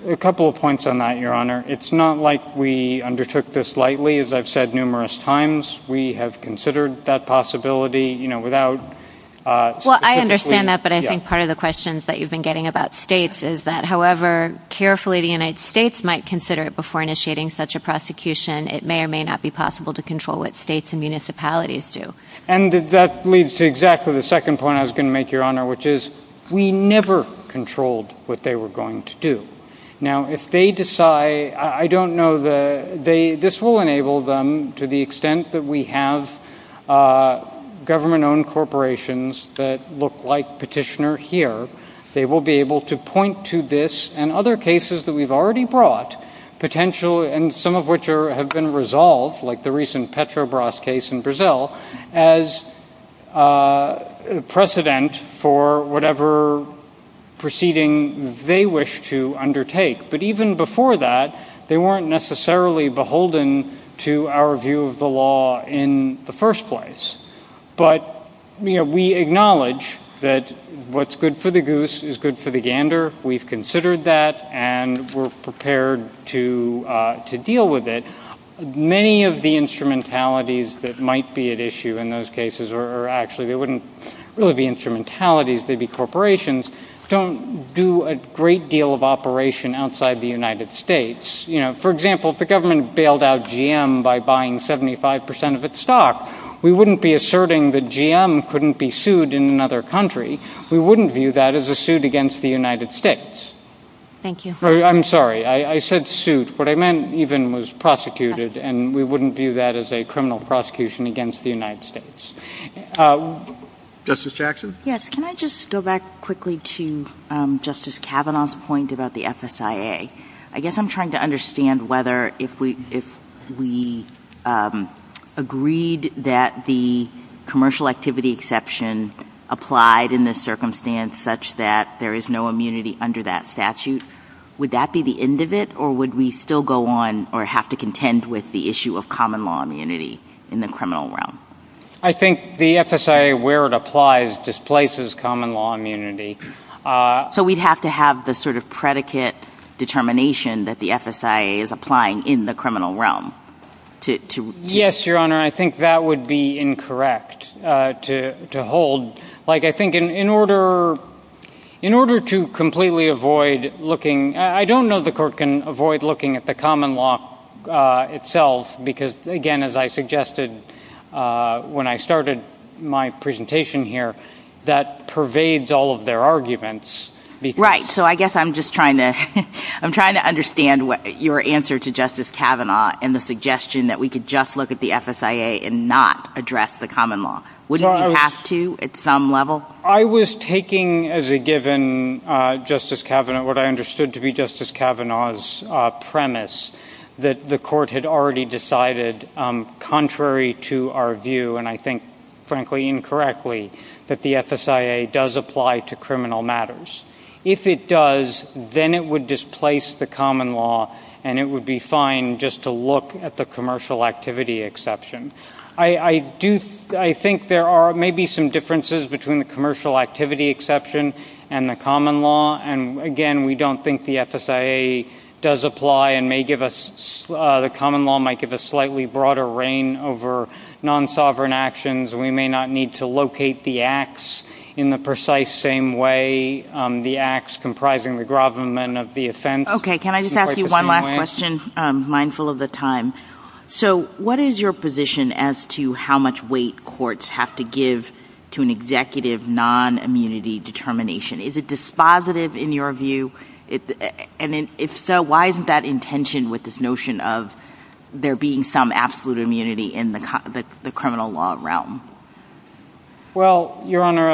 A couple of points on that, Your Honor. It's not like we undertook this lightly, as I've said numerous times. We have considered that possibility. Well, I understand that, but I think part of the questions that you've been getting about states is that, however carefully the United States might consider it before initiating such a prosecution, it may or may not be possible to control what states and municipalities do. And that leads to exactly the second point I was going to make, Your Honor, which is we never controlled what they were going to do. Now, if they decide, I don't know, this will enable them, to the extent that we have government-owned corporations that look like Petitioner here, they will be able to point to this and other cases that we've already brought, and some of which have been resolved, like the recent Petrobras case in Brazil, as precedent for whatever proceeding they wish to undertake. But even before that, they weren't necessarily beholden to our view of the law in the first place. But we acknowledge that what's good for the goose is good for the gander. We've considered that, and we're prepared to deal with it. Many of the instrumentalities that might be at issue in those cases, or actually they wouldn't really be instrumentalities, they'd be corporations, don't do a great deal of operation outside the United States. You know, for example, if the government bailed out GM by buying 75% of its stock, we wouldn't be asserting that GM couldn't be sued in another country. We wouldn't view that as a suit against the United States. Thank you. I'm sorry. I said suit. What I meant even was prosecuted, and we wouldn't view that as a criminal prosecution against the United States. Justice Jackson? Yes. Can I just go back quickly to Justice Kavanaugh's point about the FSIA? I guess I'm trying to understand whether if we agreed that the commercial activity exception applied in this circumstance such that there is no immunity under that statute, would that be the end of it, or would we still go on or have to contend with the issue of common law immunity in the criminal realm? I think the FSIA, where it applies, displaces common law immunity. So we'd have to have the sort of predicate determination that the FSIA is applying in the criminal realm? Yes, Your Honor. I think that would be incorrect to hold. I think in order to completely avoid looking, I don't know the court can avoid looking at the common law itself, because, again, as I suggested when I started my presentation here, that pervades all of their arguments. Right. So I guess I'm just trying to understand your answer to Justice Kavanaugh and the suggestion that we could just look at the FSIA and not address the common law. Wouldn't you have to at some level? I was taking as a given what I understood to be Justice Kavanaugh's premise that the court had already decided, contrary to our view, and I think, frankly, incorrectly, that the FSIA does apply to criminal matters. If it does, then it would displace the common law, and it would be fine just to look at the commercial activity exception. I think there are maybe some differences between the commercial activity exception and the common law, and, again, we don't think the FSIA does apply and the common law might give us slightly broader reign over non-sovereign actions. We may not need to locate the acts in the precise same way the acts comprising the government of the offense. Okay. Can I just ask you one last question, mindful of the time? So what is your position as to how much weight courts have to give to an executive non-immunity determination? Is it dispositive in your view? And if so, why isn't that in tension with this notion of there being some absolute immunity in the criminal law realm? Well, Your Honor,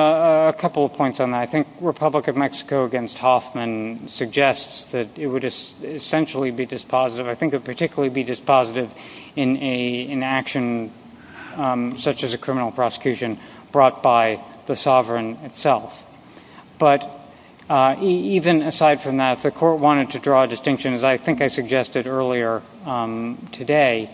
a couple of points on that. I think Republic of Mexico against Hoffman suggests that it would essentially be dispositive. I think it would particularly be dispositive in action such as a criminal prosecution brought by the sovereign itself. But even aside from that, the court wanted to draw a distinction, as I think I suggested earlier today.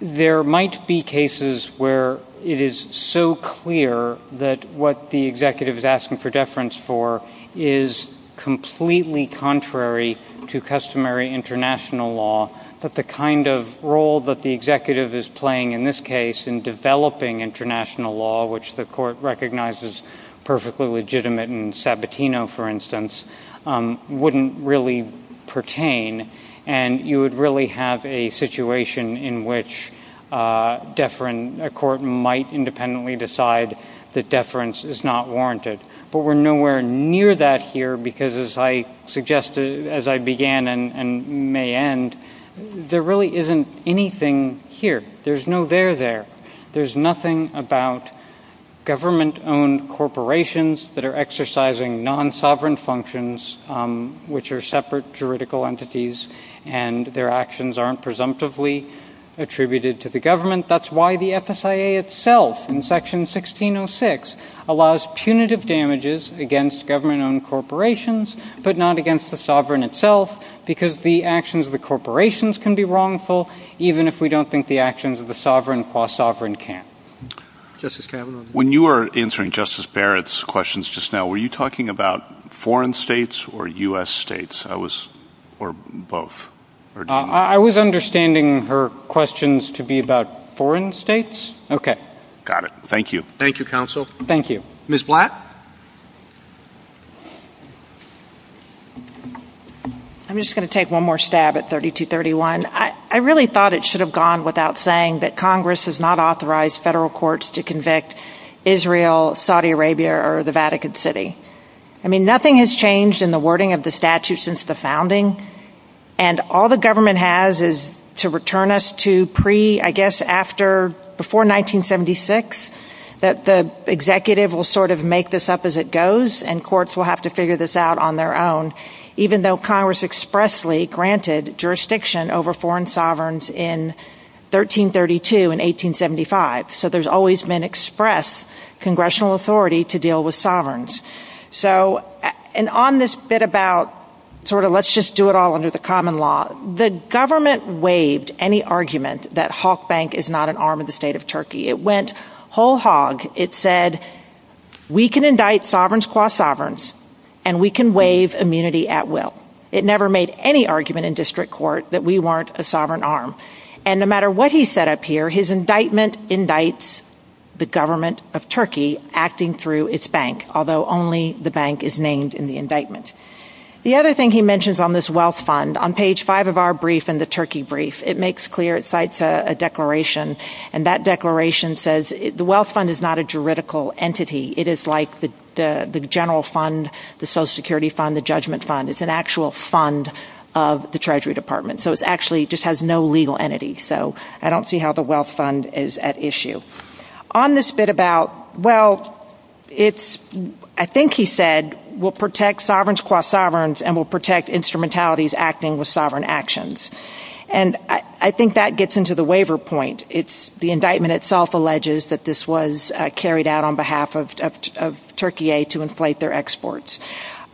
There might be cases where it is so clear that what the executive is asking for deference for is completely contrary to customary international law, that the kind of role that the executive is playing in this case in developing international law, which the court recognizes perfectly legitimate in Sabatino, for instance, wouldn't really pertain. And you would really have a situation in which a court might independently decide that deference is not warranted. But we're nowhere near that here, because as I suggested, as I began and may end, there really isn't anything here. There's no there there. There's nothing about government-owned corporations that are exercising non-sovereign functions, which are separate juridical entities, and their actions aren't presumptively attributed to the government. That's why the FSIA itself, in section 1606, allows punitive damages against government-owned corporations, but not against the sovereign itself, because the actions of the corporations can be wrongful, even if we don't think the actions of the sovereign qua sovereign can. When you were answering Justice Barrett's questions just now, were you talking about foreign states or U.S. states, or both? I was understanding her questions to be about foreign states. Okay. Got it. Thank you. Thank you, counsel. Thank you. Ms. Blatt? I'm just going to take one more stab at 3231. I really thought it should have gone without saying that Congress has not authorized federal courts to convict Israel, Saudi Arabia, or the Vatican City. I mean, nothing has changed in the wording of the statute since the founding, and all the government has is to return us to pre, I guess, before 1976, that the executive will sort of make this up as it goes, and courts will have to figure this out on their own, even though Congress expressly granted jurisdiction over foreign sovereigns in 1332 and 1875. So there's always been express congressional authority to deal with sovereigns. And on this bit about sort of let's just do it all under the common law, the government waived any argument that Halk Bank is not an arm of the state of Turkey. It went whole hog. It said, we can indict sovereigns qua sovereigns, and we can waive immunity at will. It never made any argument in district court that we weren't a sovereign arm. And no matter what he set up here, his indictment indicts the government of Turkey acting through its bank, although only the bank is named in the indictment. The other thing he mentions on this wealth fund, on page five of our brief and the Turkey brief, it makes clear, it cites a declaration, and that declaration says the wealth fund is not a juridical entity. It is like the general fund, the Social Security fund, the judgment fund. It's an actual fund of the Treasury Department. So it actually just has no legal entity. So I don't see how the wealth fund is at issue. On this bit about wealth, I think he said we'll protect sovereigns qua sovereigns and we'll protect instrumentalities acting with sovereign actions. And I think that gets into the waiver point. The indictment itself alleges that this was carried out on behalf of Turkey to inflate their exports.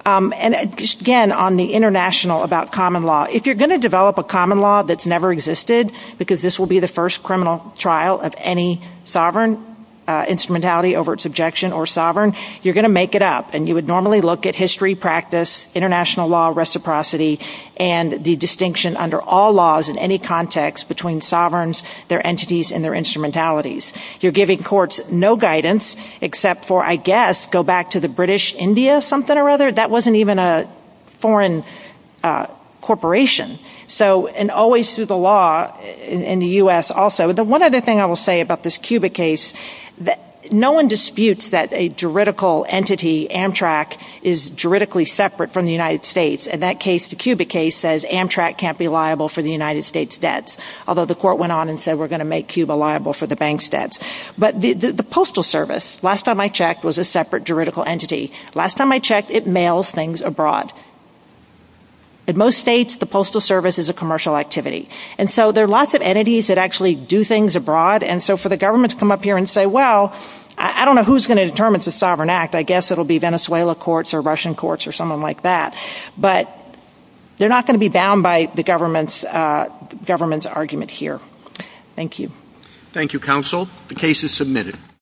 And, again, on the international about common law, if you're going to develop a common law that's never existed, because this will be the first criminal trial of any sovereign instrumentality over its objection or sovereign, you're going to make it up. And you would normally look at history, practice, international law, reciprocity, and the distinction under all laws in any context between sovereigns, their entities, and their instrumentalities. You're giving courts no guidance except for, I guess, go back to the British India something or other. That wasn't even a foreign corporation. And always through the law in the U.S. also. One other thing I will say about this Cuba case, no one disputes that a juridical entity, Amtrak, is juridically separate from the United States. And that case, the Cuba case, says Amtrak can't be liable for the United States' debts, although the court went on and said we're going to make Cuba liable for the bank's debts. But the Postal Service, last time I checked, was a separate juridical entity. Last time I checked, it mails things abroad. In most states, the Postal Service is a commercial activity. And so there are lots of entities that actually do things abroad. And so for the government to come up here and say, well, I don't know who's going to determine it's a sovereign act. I guess it will be Venezuela courts or Russian courts or someone like that. But they're not going to be bound by the government's argument here. Thank you. Thank you, counsel. The case is submitted.